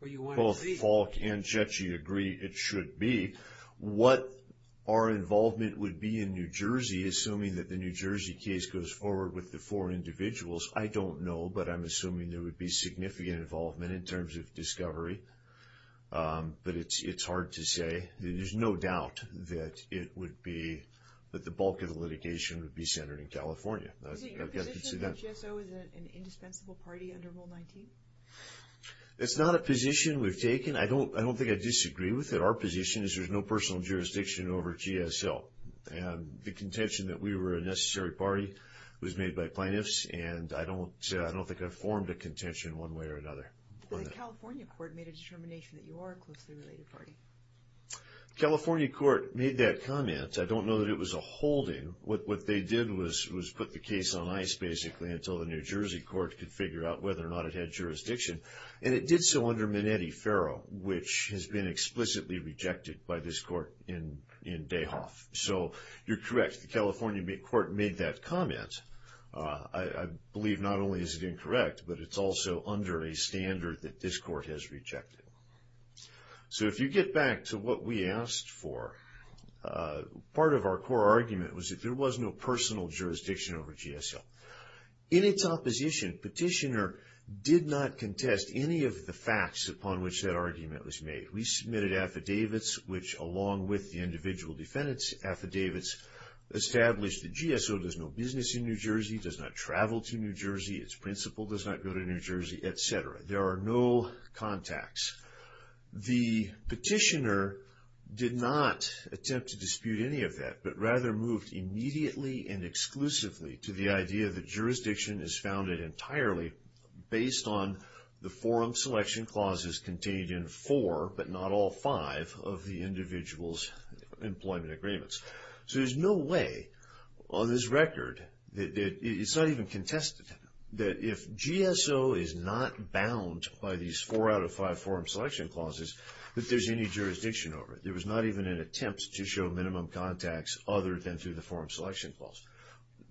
both Falk and Chechi agree it should be. What our involvement would be in New Jersey, assuming that the New Jersey case goes forward with the four individuals, I don't know, but I'm assuming there would be significant involvement in terms of discovery. But it's hard to say. There's no doubt that the bulk of the litigation would be centered in California. Is it your position that GSO is an indispensable party under Rule 19? It's not a position we've taken. I don't think I'd disagree with it. Our position is there's no personal jurisdiction over GSO. And the contention that we were a necessary party was made by plaintiffs, and I don't think I've formed a contention one way or another. So the California court made a determination that you are a closely related party? The California court made that comment. I don't know that it was a holding. What they did was put the case on ice, basically, until the New Jersey court could figure out whether or not it had jurisdiction. And it did so under Minetti-Ferro, which has been explicitly rejected by this court in Dayhoff. So you're correct. The California court made that comment. I believe not only is it incorrect, but it's also under a standard that this court has rejected. So if you get back to what we asked for, part of our core argument was that there was no personal jurisdiction over GSO. In its opposition, Petitioner did not contest any of the facts upon which that argument was made. We submitted affidavits, which, along with the individual defendant's affidavits, established that GSO does no business in New Jersey, does not travel to New Jersey, its principal does not go to New Jersey, et cetera. There are no contacts. The Petitioner did not attempt to dispute any of that, but rather moved immediately and exclusively to the idea that jurisdiction is founded entirely based on the forum selection clauses contained in four, but not all five, of the individual's employment agreements. So there's no way on this record, it's not even contested, that if GSO is not bound by these four out of five forum selection clauses, that there's any jurisdiction over it. There was not even an attempt to show minimum contacts other than through the forum selection clause.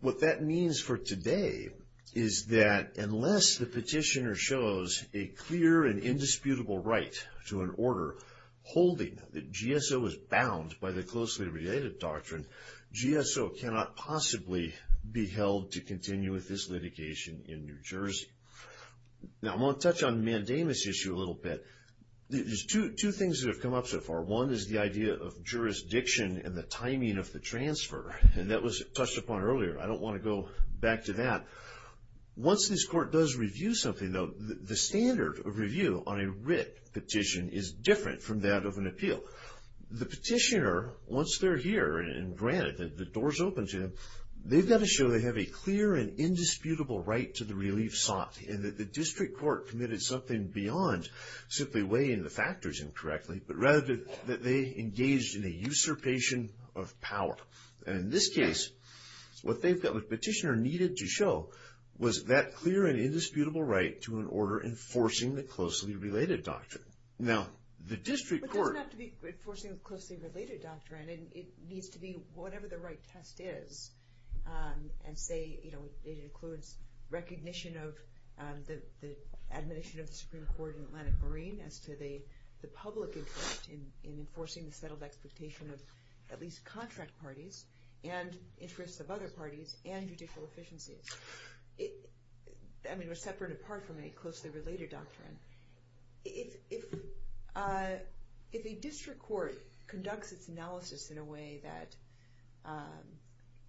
What that means for today is that unless the Petitioner shows a clear and indisputable right to an order holding that GSO is bound by the closely related doctrine, GSO cannot possibly be held to continue with this litigation in New Jersey. Now, I want to touch on the mandamus issue a little bit. There's two things that have come up so far. One is the idea of jurisdiction and the timing of the transfer, and that was touched upon earlier. I don't want to go back to that. Once this Court does review something, though, the standard of review on a writ petition is different from that of an appeal. The Petitioner, once they're here and granted and the door's open to them, they've got to show they have a clear and indisputable right to the relief sought, and that the District Court committed something beyond simply weighing the factors incorrectly, but rather that they engaged in a usurpation of power. In this case, what the Petitioner needed to show was that clear and indisputable right to an order enforcing the closely related doctrine. Now, the District Court... But it doesn't have to be enforcing the closely related doctrine. It needs to be whatever the right test is. And say, you know, it includes recognition of the admonition of the Supreme Court in Atlantic Marine as to the public interest in enforcing the settled expectation of at least contract parties and interests of other parties and judicial efficiencies. I mean, they're separate apart from a closely related doctrine. If a District Court conducts its analysis in a way that,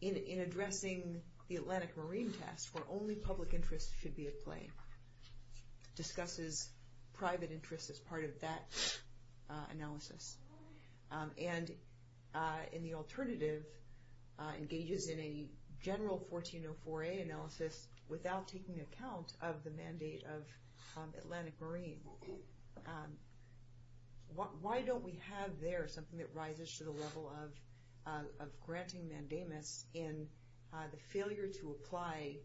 in addressing the Atlantic Marine test where only public interest should be at play, discusses private interest as part of that analysis, and, in the alternative, engages in a general 1404A analysis without taking account of the mandate of Atlantic Marine, why don't we have there something that rises to the level of granting mandatement in the failure to apply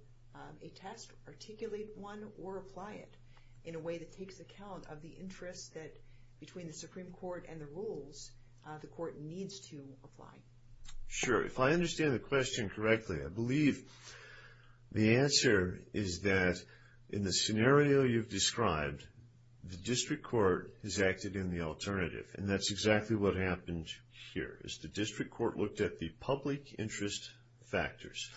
a test, articulate one, or apply it in a way that takes account of the interest that, between the Supreme Court and the rules, the Court needs to apply? Sure. If I understand the question correctly, I believe the answer is that, in the scenario you've described, the District Court has acted in the alternative. And that's exactly what happened here, is the District Court looked at the public interest factors.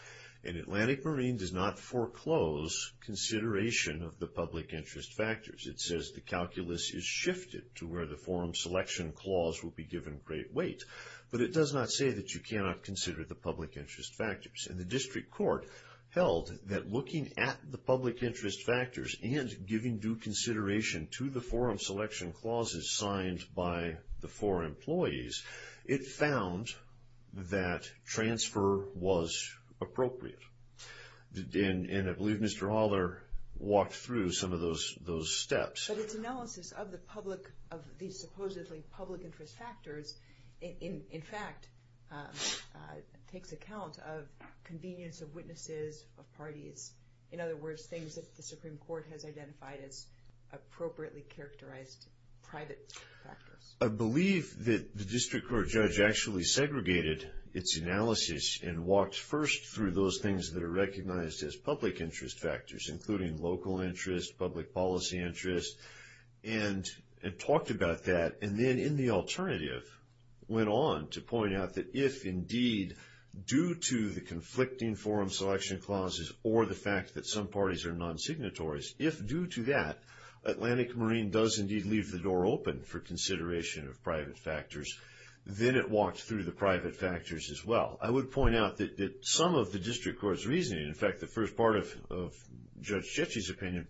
And Atlantic Marine does not foreclose consideration of the public interest factors. It says the calculus is shifted to where the forum selection clause will be given great weight. But it does not say that you cannot consider the public interest factors. And the District Court held that looking at the public interest factors and giving due consideration to the forum selection clauses signed by the four employees, it found that transfer was appropriate. And I believe Mr. Haller walked through some of those steps. But its analysis of the public, of these supposedly public interest factors, in fact, takes account of convenience of witnesses, of parties, in other words, things that the Supreme Court has identified as appropriately characterized private interest factors. I believe that the District Court judge actually segregated its analysis and walked first through those things that are recognized as public interest factors, including local interest, public policy interest, and talked about that. And then in the alternative went on to point out that if, indeed, due to the conflicting forum selection clauses or the fact that some parties are non-signatories, if due to that, Atlantic Marine does, indeed, leave the door open for consideration of private factors, then it walks through the private factors as well. I would point out that some of the District Court's reasoning, in fact, the first part of Judge Chetty's opinion,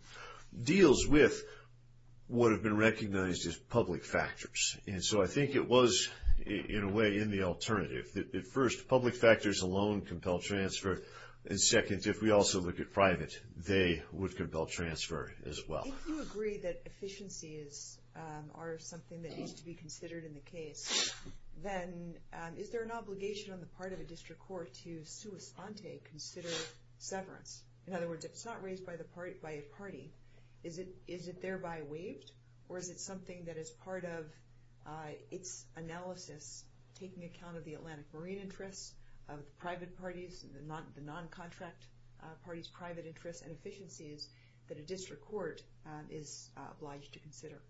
deals with what have been recognized as public factors. And so I think it was, in a way, in the alternative. First, public factors alone compel transfer. And second, if we also look at private, they would compel transfer as well. If you agree that efficiencies are something that needs to be considered in the case, then is there an obligation on the part of the District Court to sui sante consider severance? In other words, it's not raised by a party. Is it thereby waived? Or is it something that is part of its analysis, taking account of the Atlantic Marine interest, of private parties, the non-contract parties' private interest and efficiencies that a District Court is obliged to consider?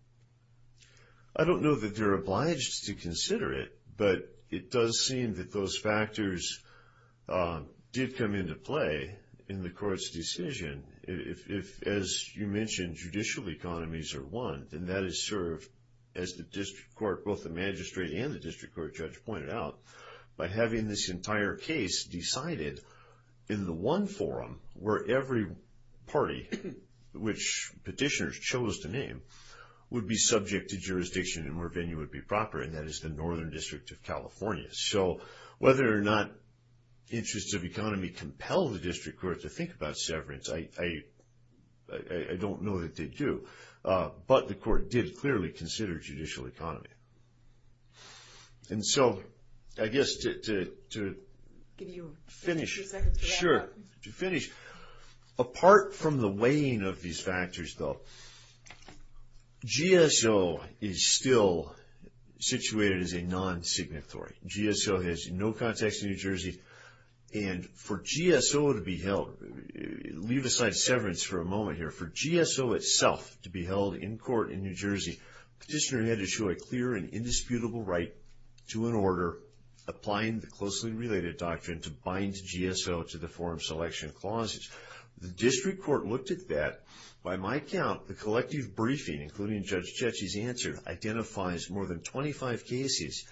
I don't know that they're obliged to consider it, but it does seem that those factors did come into play in the Court's decision. If, as you mentioned, judicial economies are one, then that is served, as the District Court, both the magistrate and the District Court judge pointed out, by having this entire case decided in the one forum where every party, which petitioners chose to name, would be subject to jurisdiction and where venue would be proper, and that is the Northern District of California. So, whether or not interests of economy compel the District Court to think about severance, I don't know that they do, but the Court did clearly consider judicial economy. And so, I guess to finish, apart from the weighing of these factors, though, is still situated as a non-signatory. GSO has no context in New Jersey, and for GSO to be held, leave aside severance for a moment here, for GSO itself to be held in court in New Jersey, petitioners had to show a clear and indisputable right to an order applying the closely related doctrine to bind GSO to the forum selection clauses. The District Court looked at that. By my count, the collective briefing, including Judge Cecchi's answer, identifies more than 25 cases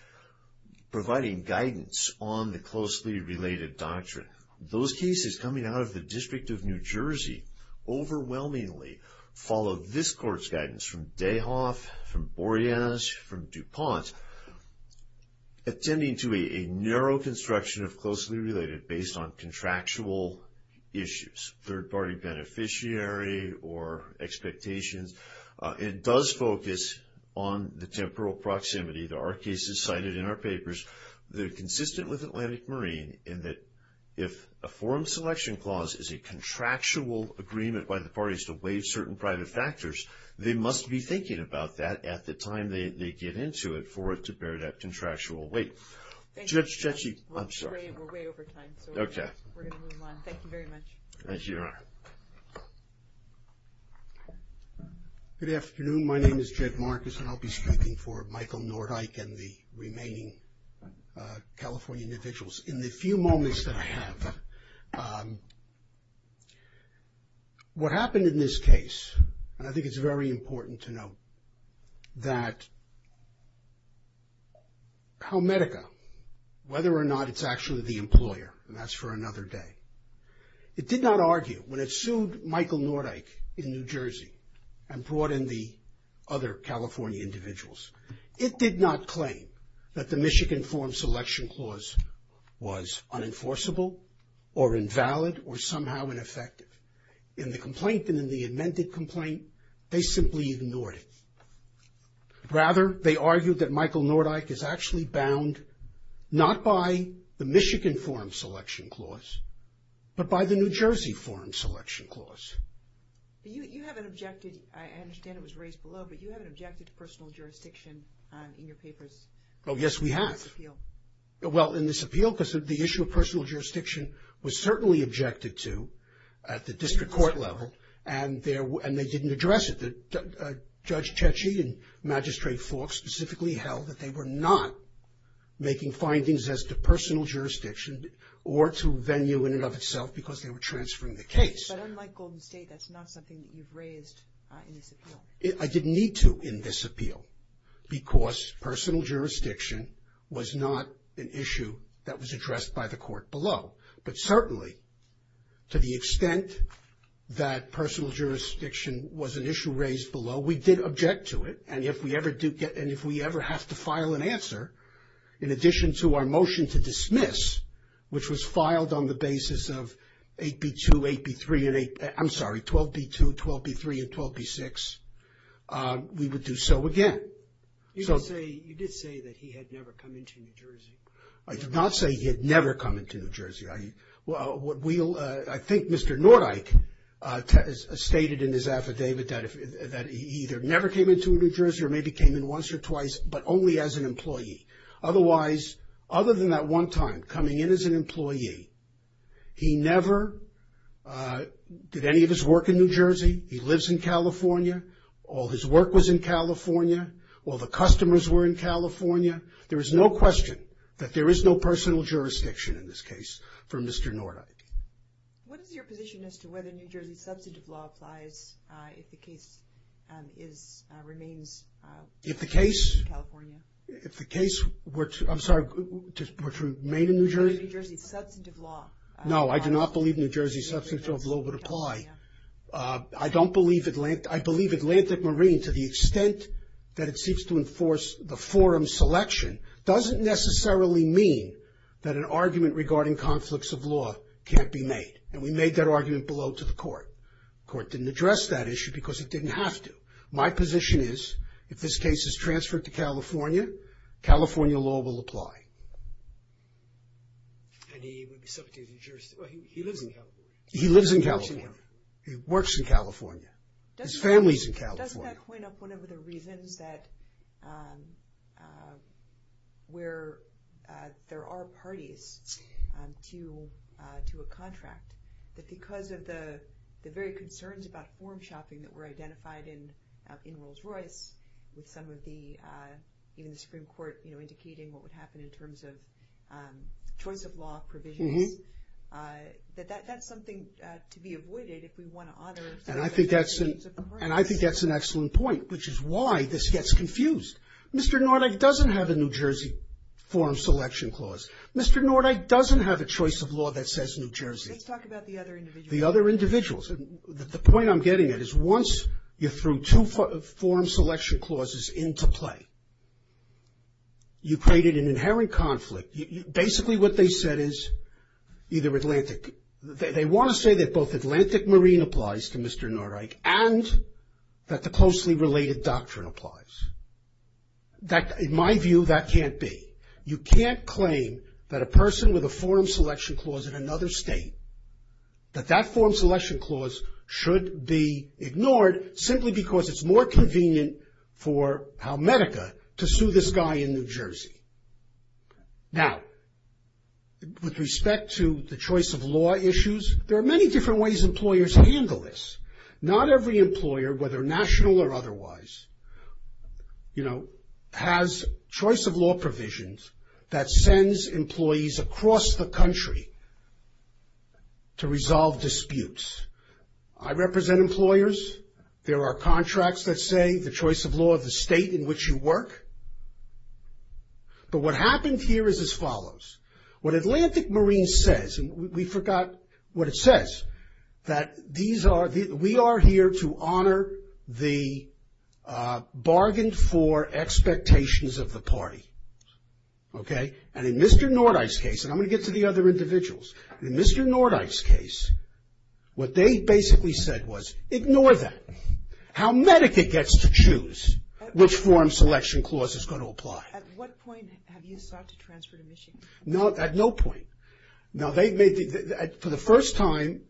providing guidance on the closely related doctrine. Those cases coming out of the District of New Jersey overwhelmingly followed this Court's guidance from Dayhoff, from Boreas, from DuPont, attending to a narrow construction of closely related doctrine based on contractual issues, third-party beneficiary or expectations. It does focus on the temporal proximity. There are cases cited in our papers that are consistent with Atlantic Marine in that if a forum selection clause is a contractual agreement by the parties to weigh certain private factors, they must be thinking about that at the time they get into it for it to bear that contractual weight. Judge Cecchi, I'm sorry. We're way over time. Okay. We're going to move on. Thank you very much. Thank you, Your Honor. Good afternoon. My name is Jed Marcus, and I'll be speaking for Michael Nordyke and the remaining California individuals. In the few moments that I have, what happened in this case, and I think it's very important to note that Palmetto, whether or not it's actually the employer, and that's for another day, it did not argue. When it sued Michael Nordyke in New Jersey and brought in the other California individuals, it did not claim that the Michigan forum selection clause was unenforceable or invalid or somehow ineffective. In the complaint and in the amended complaint, they simply ignored it. Rather, they argued that Michael Nordyke is actually bound not by the Michigan forum selection clause, but by the New Jersey forum selection clause. You haven't objected. I understand it was raised below, but you haven't objected to personal jurisdiction in your papers. Oh, yes, we have. In this appeal. The focus of the issue of personal jurisdiction was certainly objected to at the district court level, and they didn't address it. Judge Tetchy and Magistrate Falk specifically held that they were not making findings as to personal jurisdiction or to venue in and of itself because they were transferring the case. But unlike Golden State, that's not something that you've raised in this appeal. I didn't need to in this appeal because personal jurisdiction was not an issue that was addressed by the court below. But certainly, to the extent that personal jurisdiction was an issue raised below, we did object to it. And if we ever have to file an answer, in addition to our motion to dismiss, which was filed on the basis of 8B2, 8B3, I'm sorry, 12B2, 12B3, and 12B6, we would do so again. You did say that he had never come into New Jersey. I did not say he had never come into New Jersey. I think Mr. Nordyke stated in his affidavit that he either never came into New Jersey or maybe came in once or twice, but only as an employee. Otherwise, other than that one time, coming in as an employee, he never did any of his work in New Jersey. He lives in California. All his work was in California. All the customers were in California. There is no question that there is no personal jurisdiction in this case for Mr. Nordyke. What is your position as to whether New Jersey substantive law applies if the case remains in California? If the case were to remain in New Jersey? New Jersey substantive law. No, I do not believe New Jersey substantive law would apply. I don't believe Atlantic, I believe Atlantic Marine, to the extent that it seeks to enforce the forum selection, doesn't necessarily mean that an argument regarding conflicts of law can't be made. And we made that argument below to the court. The court didn't address that issue because it didn't have to. My position is if this case is transferred to California, California law will apply. He lives in California. He works in California. His family is in California. Doesn't that point up one of the reasons that where there are parties to a contract, that because of the very concerns about form shopping that were identified in Rolls-Royce, with some of the Supreme Court indicating what would happen in terms of choice of law provisioning, that that's something to be avoided if we want to honor the principles of the court? And I think that's an excellent point, which is why this gets confused. Mr. Nordyke doesn't have a New Jersey forum selection clause. Mr. Nordyke doesn't have a choice of law that says New Jersey. Let's talk about the other individuals. The other individuals. The point I'm getting at is once you threw two forum selection clauses into play, you created an inherent conflict. Basically what they said is either Atlantic, they want to say that both Atlantic Marine applies to Mr. Nordyke and that the closely related doctrine applies. In my view, that can't be. You can't claim that a person with a forum selection clause in another state, that that forum selection clause should be ignored simply because it's more convenient for Halmedica to sue this guy in New Jersey. Now, with respect to the choice of law issues, there are many different ways employers handle this. Not every employer, whether national or otherwise, you know, has choice of law provisions that sends employees across the country to resolve disputes. I represent employers. There are contracts that say the choice of law of the state in which you work. But what happened here is as follows. What Atlantic Marine says, and we forgot what it says, that we are here to honor the bargains for expectations of the party. Okay? And in Mr. Nordyke's case, and I'm going to get to the other individuals. In Mr. Nordyke's case, what they basically said was ignore that. Halmedica gets to choose which forum selection clause is going to apply. At what point have you sought to transfer to Michigan? At no point. Now, they may be, for the first time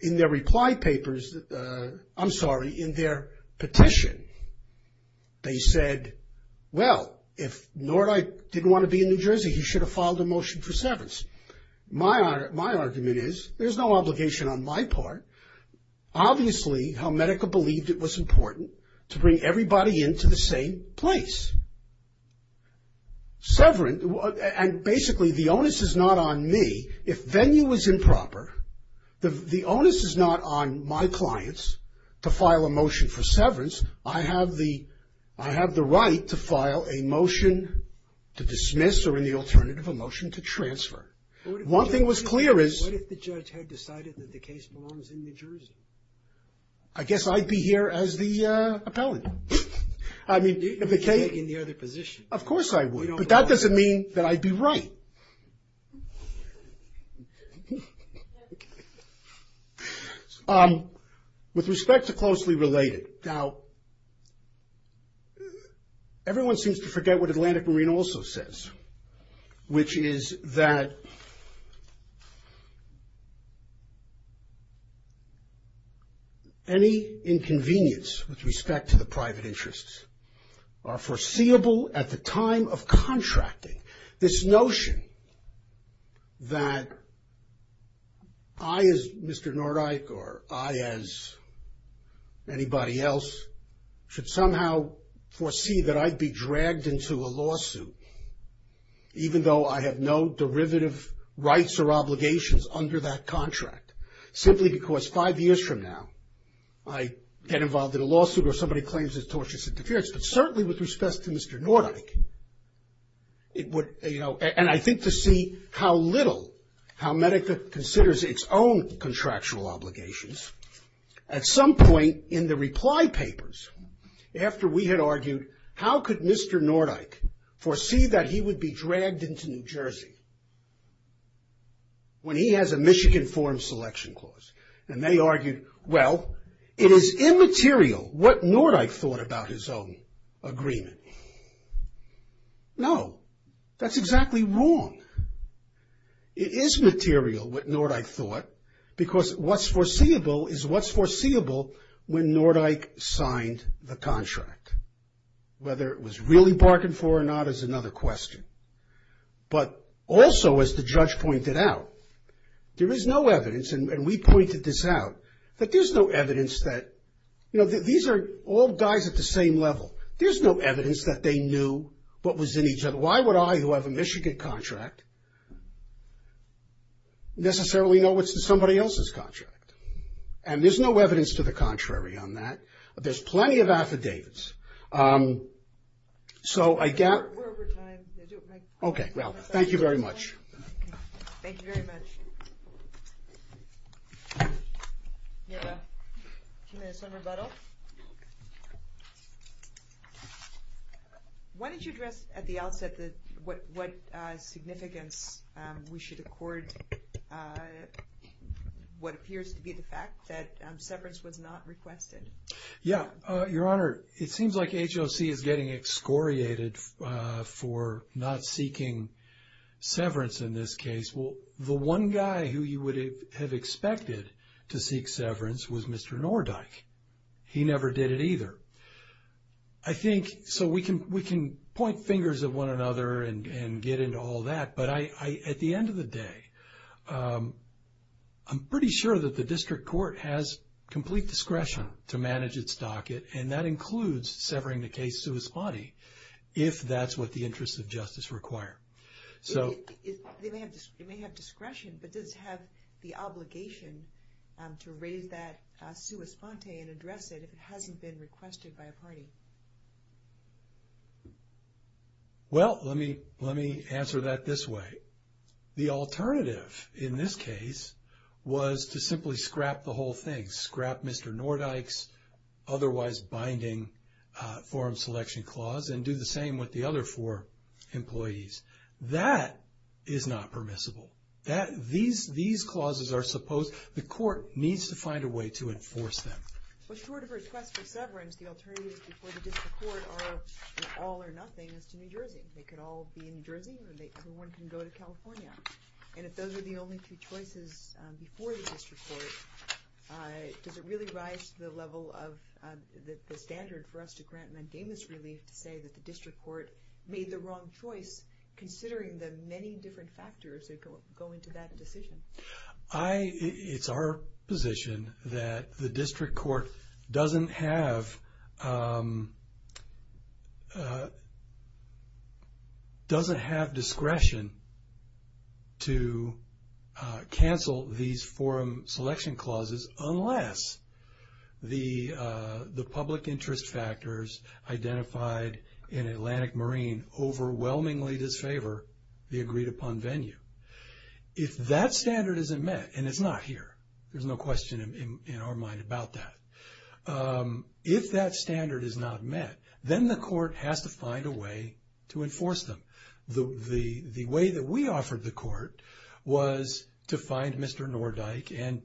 in their reply papers, I'm sorry, in their petition, they said, well, if Nordyke didn't want to be in New Jersey, he should have filed a motion for severance. My argument is there's no obligation on my part. Obviously Halmedica believed it was important to bring everybody into the same place. Severance, and basically the onus is not on me. If venue is improper, the onus is not on my clients to file a motion for severance. I have the right to file a motion to dismiss or, in the alternative, a motion to transfer. One thing was clear is. What if the judge had decided that the case belongs in New Jersey? I guess I'd be here as the appellant. I mean, if it takes. You'd be in the other position. Of course I would, but that doesn't mean that I'd be right. With respect to closely related. Now, everyone seems to forget what Atlantic Marine also says, which is that any inconvenience with respect to the private interests are foreseeable at the time of contracting. This notion that I, as Mr. Nordyke, or I as anybody else, should somehow foresee that I'd be dragged into a lawsuit, even though I have no derivative rights or obligations under that contract, simply because five years from now I get involved in a lawsuit or somebody claims it's torturous interference, but certainly with respect to Mr. Nordyke. And I think to see how little, how Medica considers its own contractual obligations. At some point in the reply papers, after we had argued, how could Mr. Nordyke foresee that he would be dragged into New Jersey when he has a Michigan foreign selection clause? And they argued, well, it is immaterial what Nordyke thought about his own agreement. No, that's exactly wrong. It is material what Nordyke thought, because what's foreseeable is what's foreseeable when Nordyke signed the contract. Whether it was really bargained for or not is another question. But also, as the judge pointed out, there is no evidence, and we pointed this out, that there's no evidence that, you know, these are all guys at the same level. There's no evidence that they knew what was in each other. Why would I, who have a Michigan contract, necessarily know what's in somebody else's contract? And there's no evidence to the contrary on that. There's plenty of affidavits. So I guess we're over time. Okay, well, thank you very much. Thank you very much. Why don't you address at the outset what significance we should accord what appears to be the fact that severance was not requested? Yeah, Your Honor, it seems like HOC is getting excoriated for not seeking severance in this case. Well, the one guy who you would have expected to seek severance was Mr. Nordyke. He never did it either. I think so we can point fingers at one another and get into all that, but at the end of the day, I'm pretty sure that the district court has complete discretion to manage its docket, and that includes severing the case sua sponte if that's what the interests of justice require. It may have discretion, but does it have the obligation to raise that sua sponte and address it if it hasn't been requested by a party? Well, let me answer that this way. The alternative in this case was to simply scrap the whole thing, scrap Mr. Nordyke's otherwise binding forum selection clause and do the same with the other four employees. That is not permissible. These clauses are supposed to be court needs to find a way to enforce them. With regard to request for severance, the alternative before the district court are all or nothing is to New Jersey. They could all be in New Jersey or everyone can go to California. And if those are the only two choices before the district court, does it really rise to the level of the standard for us to grant mandamus relief to say that the district court made the wrong choice, considering the many different factors that go into that decision? It's our position that the district court doesn't have discretion to cancel these forum selection clauses unless the public interest factors identified in Atlantic Marine overwhelmingly disfavor the agreed upon venue. If that standard isn't met, and it's not here, there's no question in our mind about that. If that standard is not met, then the court has to find a way to enforce them. The way that we offered the court was to find Mr. Nordyke and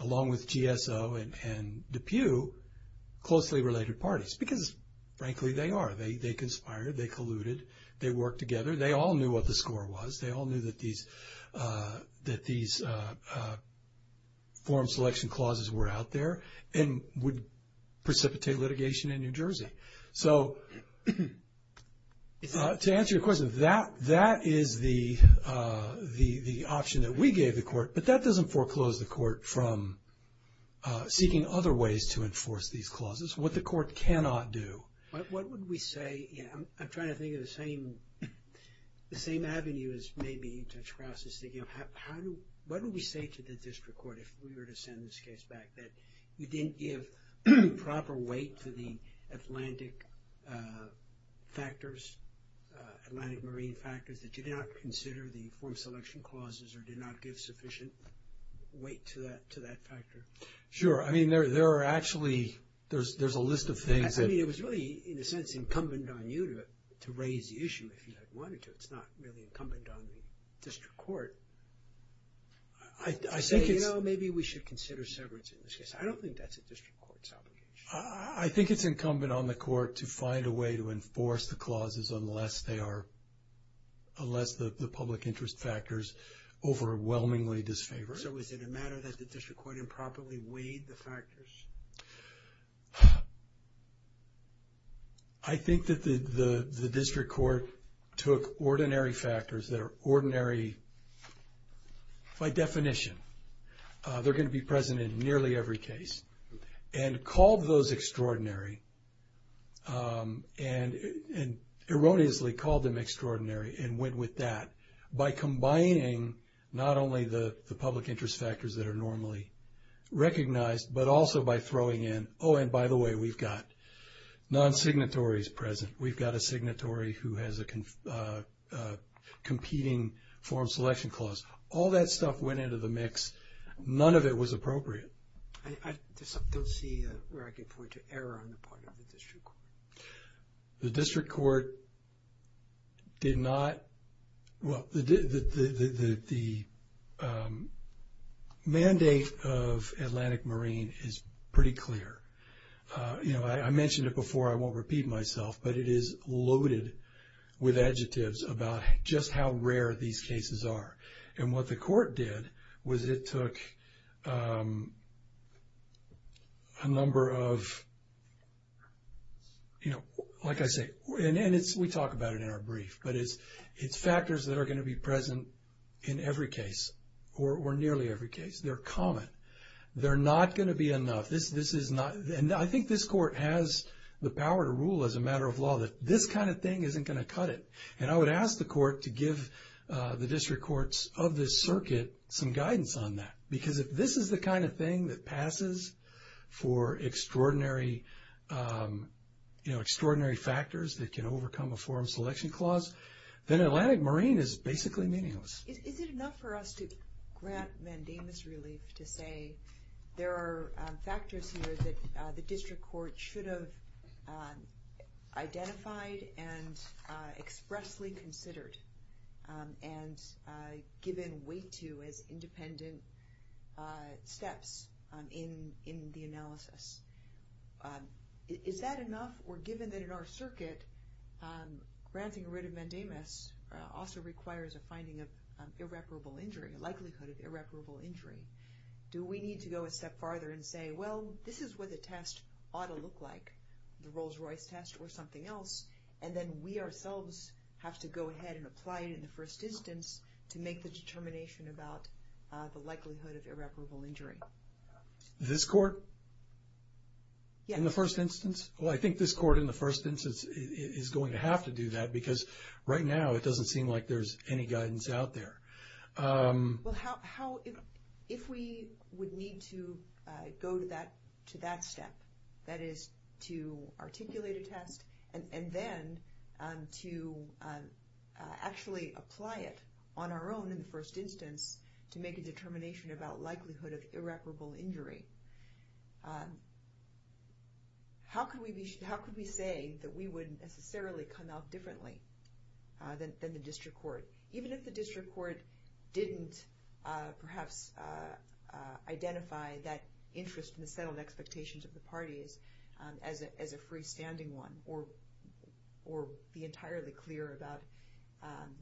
along with GSO and DePue closely related parties because, frankly, they are. They conspired. They colluded. They worked together. They all knew what the score was. They all knew that these forum selection clauses were out there and would precipitate litigation in New Jersey. So to answer your question, that is the option that we gave the court, but that doesn't foreclose the court from seeking other ways to enforce these clauses, what the court cannot do. What would we say? I'm trying to think of the same avenue as maybe Judge Krause is thinking of. What would we say to the district court if we were to send this case back, that we didn't give proper weight to the Atlantic factors, Atlantic Marine factors, that did not consider the forum selection clauses or did not give sufficient weight to that factor? Sure. I mean, there are actually – there's a list of things. I mean, it was really, in a sense, incumbent on you to raise the issue if you wanted to. It's not really incumbent on the district court to say, you know, maybe we should consider severance in this case. I don't think that's a district court's obligation. I think it's incumbent on the court to find a way to enforce the clauses unless they are – unless the public interest factors overwhelmingly disfavor it. So is it a matter that the district court improperly weighed the factors? I think that the district court took ordinary factors that are ordinary by definition. They're going to be present in nearly every case and called those extraordinary and erroneously called them extraordinary and went with that. By combining not only the public interest factors that are normally recognized, but also by throwing in, oh, and by the way, we've got non-signatories present. We've got a signatory who has a competing forum selection clause. All that stuff went into the mix. None of it was appropriate. I don't see where I could point to error on the part of the district court. The district court did not – well, the mandate of Atlantic Marine is pretty clear. You know, I mentioned it before, I won't repeat myself, but it is loaded with adjectives about just how rare these cases are. And what the court did was it took a number of, you know, like I say, and we talk about it in our brief, but it's factors that are going to be present in every case or nearly every case. They're common. They're not going to be enough. This is not – and I think this court has the power to rule as a matter of law that this kind of thing isn't going to cut it. And I would ask the court to give the district courts of this circuit some guidance on that. Because if this is the kind of thing that passes for extraordinary factors that can overcome a forum selection clause, then Atlantic Marine is basically meaningless. Is it enough for us to grant Vandema's relief to say there are factors here that the district court should have identified and expressly considered and given way to as independent steps in the analysis? Is that enough? Or given that in our circuit, granting rid of Vandema's also requires a finding of irreparable injury, a likelihood of irreparable injury, do we need to go a step farther and say, well, this is what the test ought to look like, the Rolls-Royce test or something else, and then we ourselves have to go ahead and apply it in the first instance to make the determination about the likelihood of irreparable injury? This court? Yes. In the first instance? Well, I think this court in the first instance is going to have to do that because right now it doesn't seem like there's any guidance out there. Well, if we would need to go to that step, that is to articulate a test and then to actually apply it on our own in the first instance to make a determination about likelihood of irreparable injury, how could we say that we would necessarily come out differently than the district court? Even if the district court didn't perhaps identify that interest in the settled expectations of the parties as a freestanding one or be entirely clear about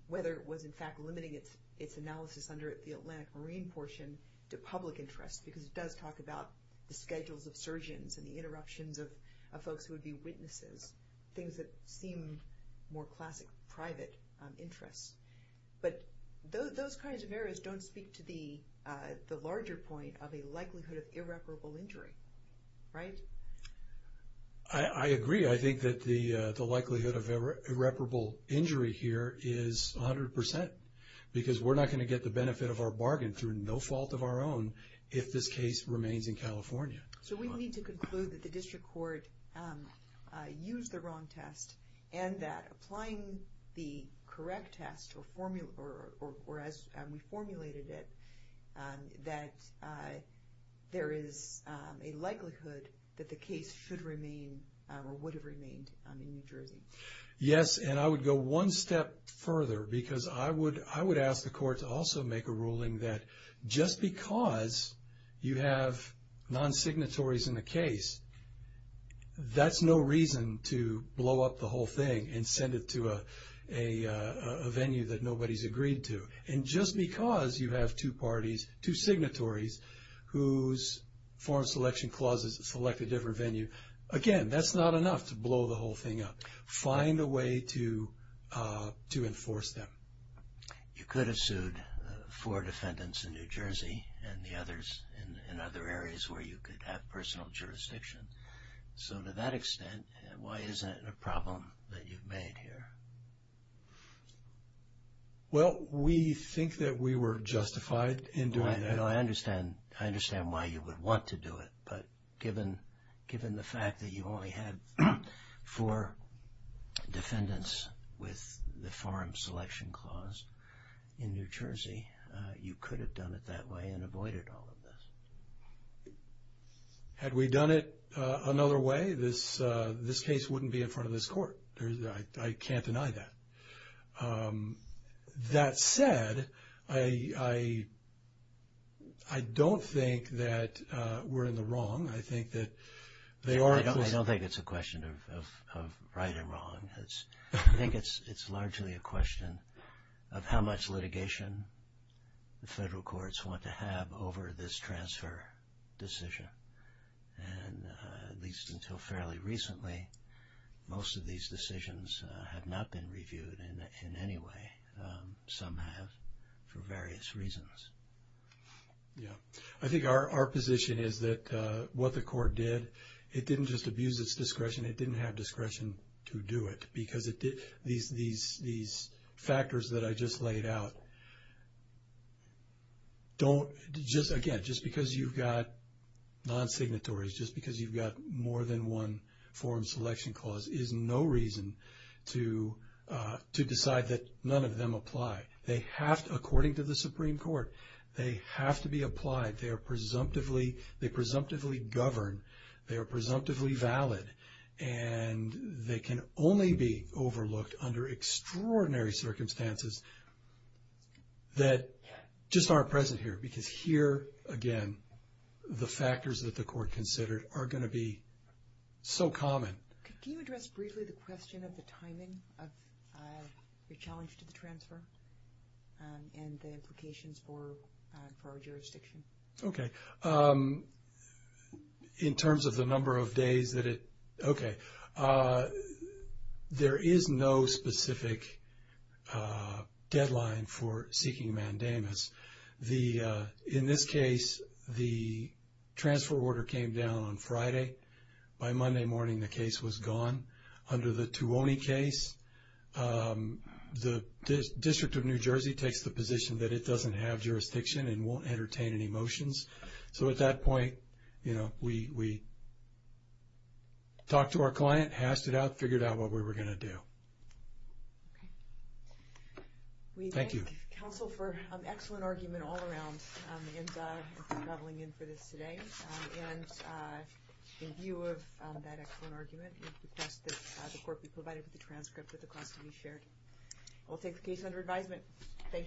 whether it was in fact limiting its analysis under the Atlantic Marine portion to public interest because it does talk about the schedules of surgeons and the interruptions of folks who would be witnesses, things that seem more classic private interest. But those kinds of areas don't speak to the larger point of a likelihood of irreparable injury, right? I agree. I think that the likelihood of irreparable injury here is 100 percent because we're not going to get the benefit of our bargain through no fault of our own if this case remains in California. So we need to conclude that the district court used the wrong test and that applying the correct test or as we formulated it, that there is a likelihood that the case should remain or would have remained in New Jersey. Yes, and I would go one step further because I would ask the court to also make a ruling that just because you have non-signatories in the case, that's no reason to blow up the whole thing and send it to a venue that nobody's agreed to. And just because you have two parties, two signatories whose foreign selection clauses select a different venue, again, that's not enough to blow the whole thing up. Find a way to enforce that. You could have sued four defendants in New Jersey and the others in other areas where you could have personal jurisdiction. So to that extent, why isn't it a problem that you've made here? Well, we think that we were justified in doing that. I understand why you would want to do it, but given the fact that you only had four defendants with the foreign selection clause in New Jersey, you could have done it that way and avoided all of this. Had we done it another way, this case wouldn't be in front of this court. I can't deny that. That said, I don't think that we're in the wrong. I don't think it's a question of right and wrong. I think it's largely a question of how much litigation the federal courts want to have over this transfer decision. And at least until fairly recently, most of these decisions have not been reviewed in any way. Some have for various reasons. I think our position is that what the court did, it didn't just abuse its discretion, it didn't have discretion to do it because these factors that I just laid out, again, just because you've got non-signatories, just because you've got more than one foreign selection clause, is no reason to decide that none of them apply. They have to, according to the Supreme Court, they have to be applied. They presumptively govern. They are presumptively valid. And they can only be overlooked under extraordinary circumstances that just aren't present here. Because here, again, the factors that the court considered are going to be so common. Can you address briefly the question of the timing of the challenge to the transfer and the implications for our jurisdiction? Okay. In terms of the number of days that it – okay. There is no specific deadline for seeking mandamus. In this case, the transfer order came down on Friday. By Monday morning, the case was gone. Under the Tuoni case, the District of New Jersey takes the position that it doesn't have jurisdiction and won't entertain any motions. So at that point, you know, we talked to our client, hashed it out, figured out what we were going to do. Thank you. We thank counsel for an excellent argument all around in traveling in for this today. And in view of that excellent argument, it's the fact that the court provided the transcript of the clause to be shared. We'll take the case under advisement. Thank you.